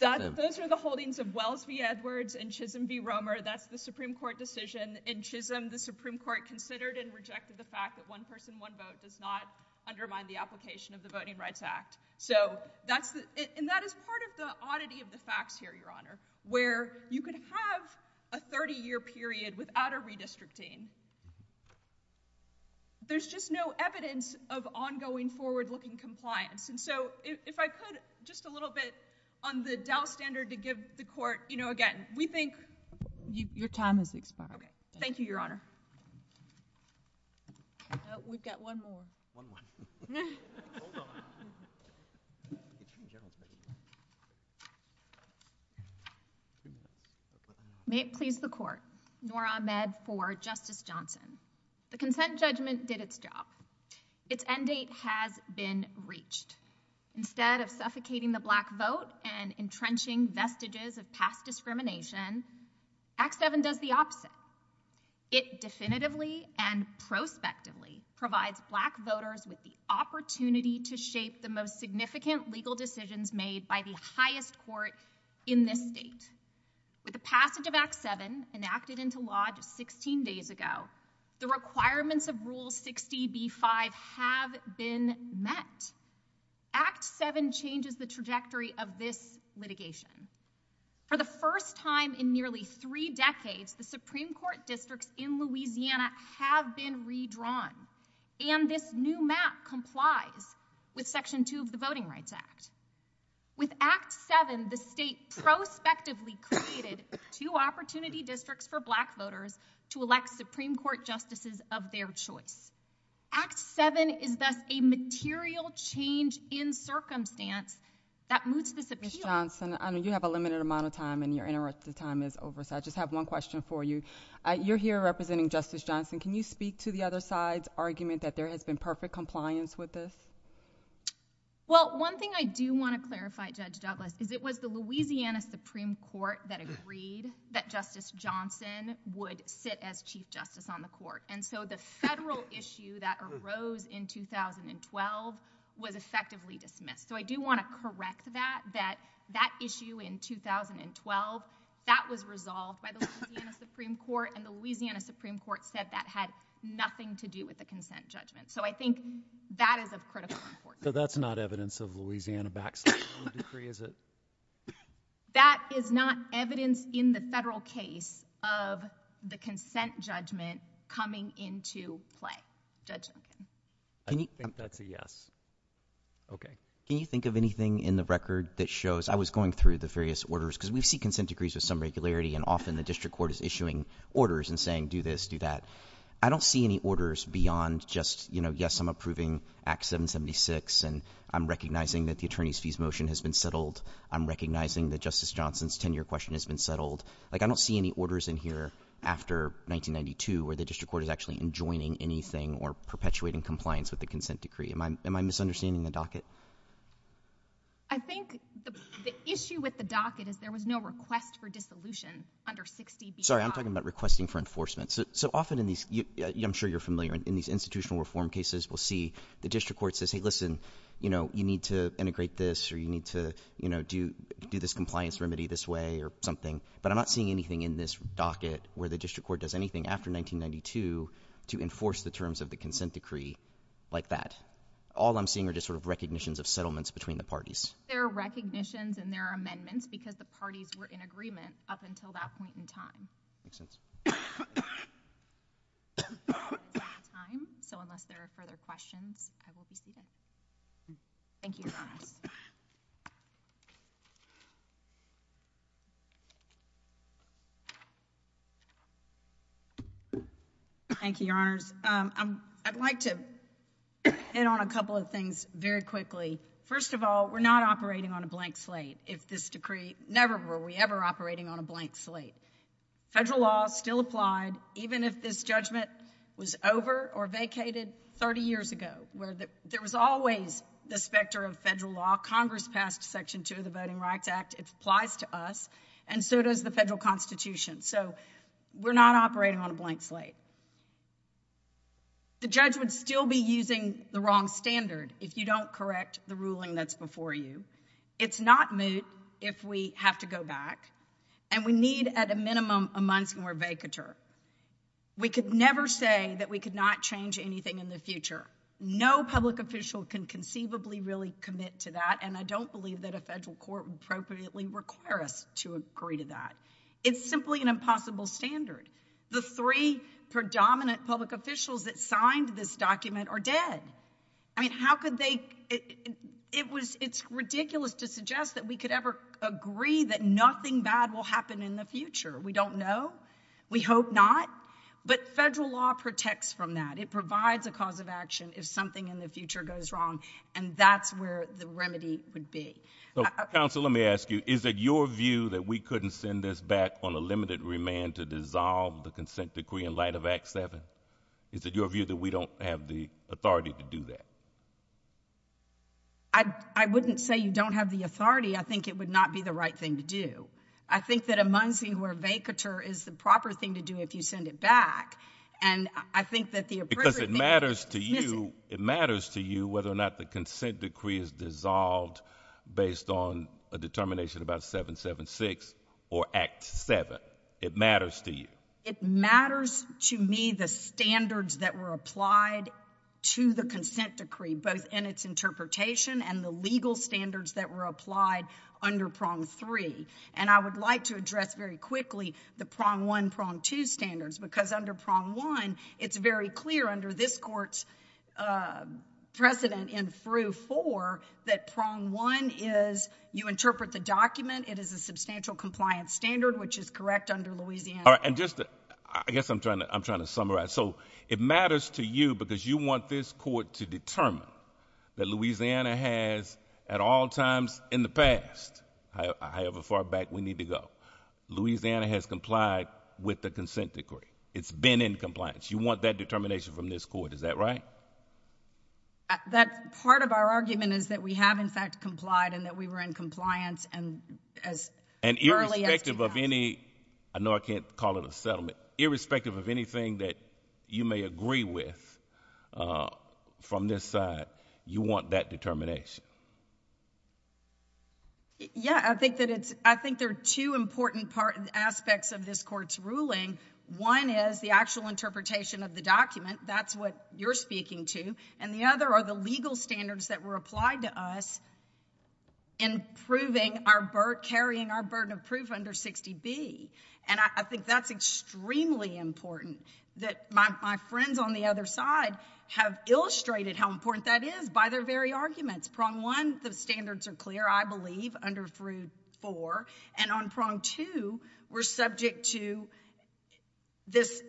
Those are the holdings of Wells v. Edwards and Chisholm v. Romer. That's the Supreme Court decision. In Chisholm, the Supreme Court considered and rejected the fact that one-person, one-vote does not undermine the application of the Voting Rights Act. And that is part of the oddity of the fact here, Your Honor, where you could have a 30-year period without a redistricting, there's just no evidence of ongoing forward-looking compliance. And so if I could, just a little bit on the Dow standard to give the court, again, we think your time has expired. Thank you, Your Honor. We've got one more. May it please the court. Noor Ahmed for Justice Johnson. The consent judgment did its job. Its end date has been reached. Instead of suffocating the black vote and entrenching vestiges of past discrimination, Act 7 does the opposite. It definitively and prospectively provides black voters with the opportunity to shape the most significant legal decisions made by the highest court in this state. With the passage of Act 7, enacted into law 16 days ago, the requirements of Rule 60b-5 have been met. Act 7 changes the trajectory of this litigation. For the first time in nearly three decades, the Supreme Court districts in Louisiana have been redrawn. And this new map complies with Section 2 of the Voting Rights Act. With Act 7, the state prospectively created two opportunity districts for black voters to elect Supreme Court justices of their choice. Act 7 is thus a material change in circumstance that moves this issue. Justice Johnson, you have a limited amount of time, and your time is over. So I just have one question for you. You're here representing Justice Johnson. Can you speak to the other side's argument that there has been perfect compliance with this? Well, one thing I do want to clarify, Judge Douglas, is it was the Louisiana Supreme Court that agreed that Justice Johnson would sit as chief justice on the court. And so the federal issue that arose in 2012 was effectively dismissed. So I do want to correct that, that that issue in 2012, that was resolved by the Louisiana Supreme Court, and the Louisiana Supreme Court said that had nothing to do with the consent judgment. So I think that is of critical importance. So that's not evidence of Louisiana backsliding from the decree, is it? That is not evidence in the federal case of the consent judgment coming into play, Judge Duncan. I think that's a yes. OK. Can you think of anything in the record that shows, I was going through the various orders, because we see consent decrees with some regularity, and often the district court is issuing orders and saying, do this, do that. I don't see any orders beyond just, yes, I'm approving Act 776, and I'm recognizing that the attorney's fees motion has been settled. I'm recognizing that Justice Johnson's 10-year question has been settled. Like, I don't see any orders in here after 1992 where the district court is actually enjoining anything or perpetuating compliance with the consent decree. Am I misunderstanding the docket? I think the issue with the docket is there was no request for dissolution under 60B. Sorry, I'm talking about requesting for enforcement. So often in these, I'm sure you're familiar, in these institutional reform cases, we'll see the district court says, hey, listen, you need to integrate this, or you need to do this compliance remedy this way, or something. But I'm not seeing anything in this docket where the district court does anything after 1992 to enforce the terms of the consent decree like that. All I'm seeing are just sort of recognitions of settlements between the parties. There are recognitions and there are amendments because the parties were in agreement up until that point in time. Thank you. So unless there are further questions, I'd like to see that. Thank you. Thank you, Your Honors. I'd like to hit on a couple of things very quickly. First of all, we're not operating on a blank slate. If this decree, never were we ever operating on a blank slate. Federal law still applied, even if this judgment was over or vacated 30 years ago. There was always the specter of federal law. Congress passed Section 2 of the Voting Rights Act. It applies to us. And so does the federal constitution. So we're not operating on a blank slate. The judge would still be using the wrong standard if you don't correct the ruling that's before you. It's not moot if we have to go back. And we need, at a minimum, a month more vacatur. We could never say that we could not change anything in the future. No public official can conceivably really commit to that. And I don't believe that a federal court would appropriately require us to agree to that. It's simply an impossible standard. The three predominant public officials that signed this document are dead. How could they? It's ridiculous to suggest that we could ever agree that nothing bad will happen in the future. We don't know. We hope not. But federal law protects from that. It provides a cause of action if something in the future goes wrong. And that's where the remedy would be. Counsel, let me ask you. Is it your view that we couldn't send this back on a limited remand to dissolve the consent decree in light of Act 7? Is it your view that we don't have the authority to do that? I wouldn't say you don't have the authority. I think it would not be the right thing to do. I think that a month fewer vacatur is the proper thing to do if you send it back. And I think that the appropriate thing- Because it matters to you whether or not the consent decree is dissolved based on a determination about 776 or Act 7. It matters to you. It matters to me the standards that were applied to the consent decree, both in its interpretation and the legal standards that were applied under prong three. And I would like to address very quickly the prong one, prong two standards. Because under prong one, it's very clear under this court's precedent in through four that prong one is you interpret the document. It is a substantial compliance standard, which is correct under Louisiana. I guess I'm trying to summarize. So it matters to you because you want this court to determine that Louisiana has, at all times in the past, however far back we need to go, Louisiana has complied with the consent decree. It's been in compliance. You want that determination from this court. Is that right? That part of our argument is that we have, in fact, complied and that we were in compliance as early as- I know I can't call it a settlement. Irrespective of anything that you may agree with from this side, you want that determination. Yeah, I think there are two important aspects of this court's ruling. One is the actual interpretation of the document. That's what you're speaking to. And the other are the legal standards that were applied to us in carrying our burden of proof under 60B. And I think that's extremely important, that my friends on the other side have illustrated how important that is by their very arguments. Prong one, the standards are clear, I believe, under 4. And on prong two, we're subject to this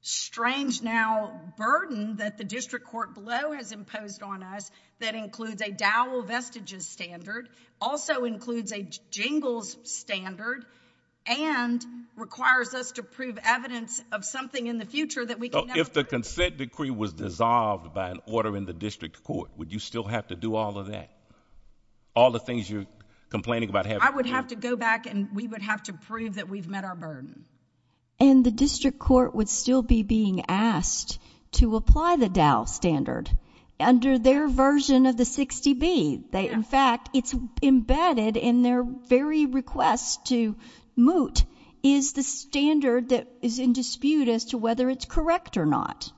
strange now burden that the district court below has imposed on us that includes a Dowell Vestiges standard, also includes a Jingles standard, and requires us to prove evidence of something in the future that we can- If the consent decree was dissolved by an order in the district court, would you still have to do all of that? All the things you're complaining about- I would have to go back and we would have to prove that we've met our burden. And the district court would still be being asked to apply the Dowell standard under their version of the 60B. In fact, it's embedded in their very request to moot is the standard that is in dispute as to whether it's correct or not.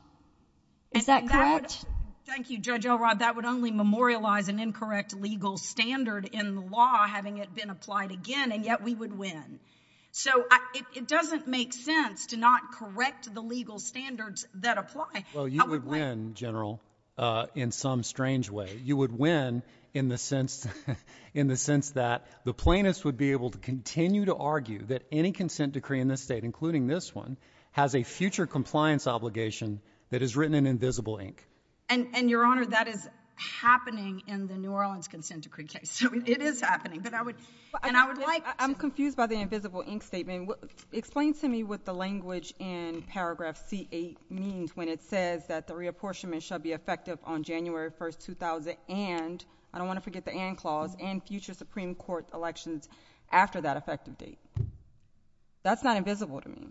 Is that correct? Thank you, Judge Elrod. That would only memorialize an incorrect legal standard in the law, having it been applied again, and yet we would win. So it doesn't make sense to not correct the legal standards that apply. Well, you would win, General, in some strange way. You would win in the sense that the plaintiffs would be able to continue to argue that any consent decree in this state, including this one, has a future compliance obligation that is written in invisible ink. And, Your Honor, that is happening in the New Orleans consent decree case. It is happening, but I would like- I'm confused by the invisible ink statement. Explain to me what the language in paragraph C8 means when it says that the reapportionment shall be effective on January 1, 2000, and-I don't want to forget the and clause- and future Supreme Court elections after that effective date. That's not invisible to me.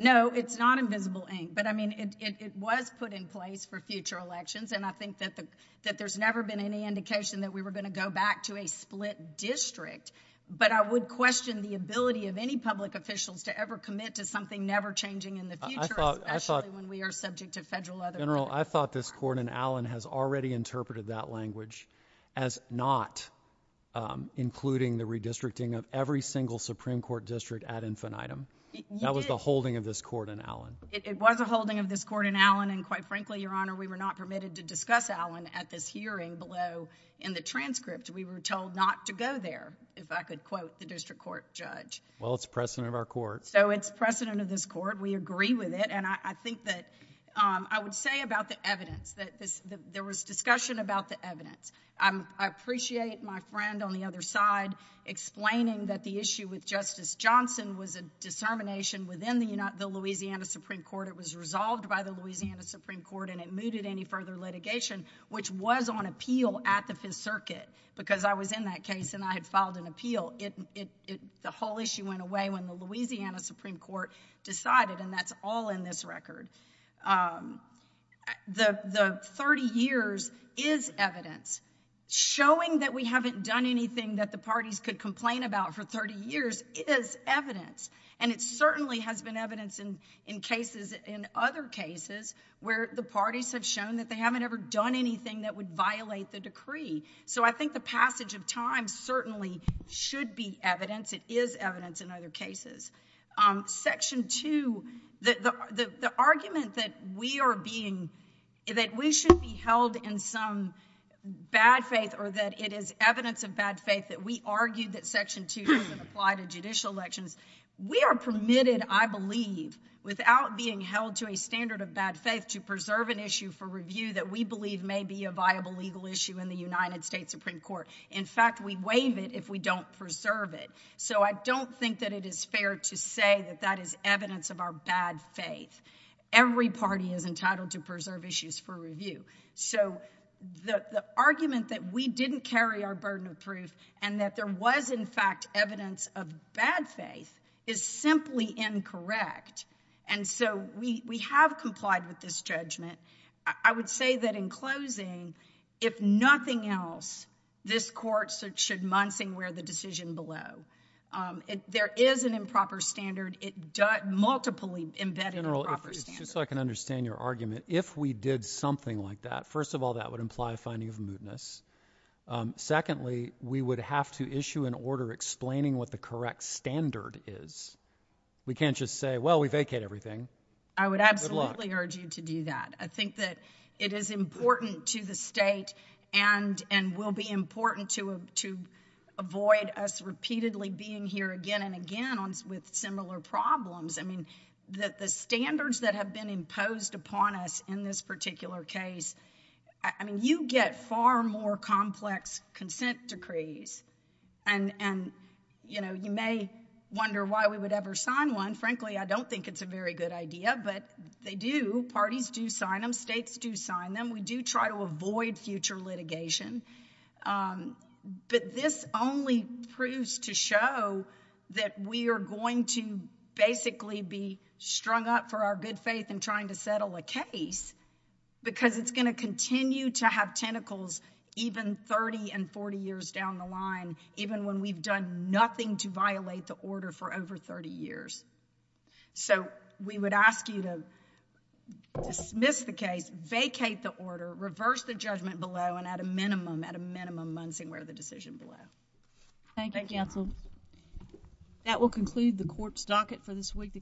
No, it's not invisible ink. But, I mean, it was put in place for future elections, and I think that there's never been any indication that we were going to go back to a split district. But I would question the ability of any public officials to ever commit to something never changing in the future, especially when we are subject to federal legislation. General, I thought this court in Allen has already interpreted that language as not including the redistricting of every single Supreme Court district ad infinitum. That was the holding of this court in Allen. It was a holding of this court in Allen, and, quite frankly, Your Honor, we were not permitted to discuss Allen at this hearing below in the transcript. We were told not to go there, if I could quote the district court judge. Well, it's precedent of our court. So it's precedent of this court. We agree with it, and I think that- There was discussion about the evidence. There was discussion about the evidence. I appreciate my friend on the other side explaining that the issue with Justice Johnson was a determination within the Louisiana Supreme Court. It was resolved by the Louisiana Supreme Court, and it mooted any further litigation, which was on appeal at the Fifth Circuit, because I was in that case, and I had filed an appeal. The whole issue went away when the Louisiana Supreme Court decided, and that's all in this record. The 30 years is evidence. Showing that we haven't done anything that the parties could complain about for 30 years, it is evidence, and it certainly has been evidence in other cases where the parties have shown that they haven't ever done anything that would violate the decree. So I think the passage of time certainly should be evidence. It is evidence in other cases. Section 2, the argument that we are being- that we should be held in some bad faith or that it is evidence of bad faith that we argue that Section 2 should apply to judicial elections, we are permitted, I believe, without being held to a standard of bad faith, to preserve an issue for review that we believe may be a viable legal issue in the United States Supreme Court. In fact, we waive it if we don't preserve it. So I don't think that it is fair to say that that is evidence of our bad faith. Every party is entitled to preserve issues for review. So the argument that we didn't carry our burden of truth and that there was, in fact, evidence of bad faith is simply incorrect. And so we have complied with this judgment. I would say that in closing, if nothing else, this court should month and wear the decision below. There is an improper standard. It does multiply embedding improper standards. General, just so I can understand your argument, if we did something like that, first of all, that would imply a finding of mootness. Secondly, we would have to issue an order explaining what the correct standard is. We can't just say, well, we vacate everything. I would absolutely urge you to do that. I think that it is important to the state and will be important to avoid us repeatedly being here again and again with similar problems. I mean, the standards that have been imposed upon us in this particular case, I mean, you get far more complex consent decrees. And, you know, you may wonder why we would ever sign one. Frankly, I don't think it's a very good idea, but they do. Parties do sign them. States do sign them. We do try to avoid future litigation. But this only proves to show that we are going to basically be strung up for our good faith and trying to settle a case because it's going to continue to have tentacles even 30 and 40 years down the line, even when we've done nothing to violate the order for over 30 years. So we would ask you to dismiss the case, vacate the order, reverse the judgment below, and at a minimum, at a minimum, move forward with the decision below. Thank you, counsel. That will conclude the court's docket for this week.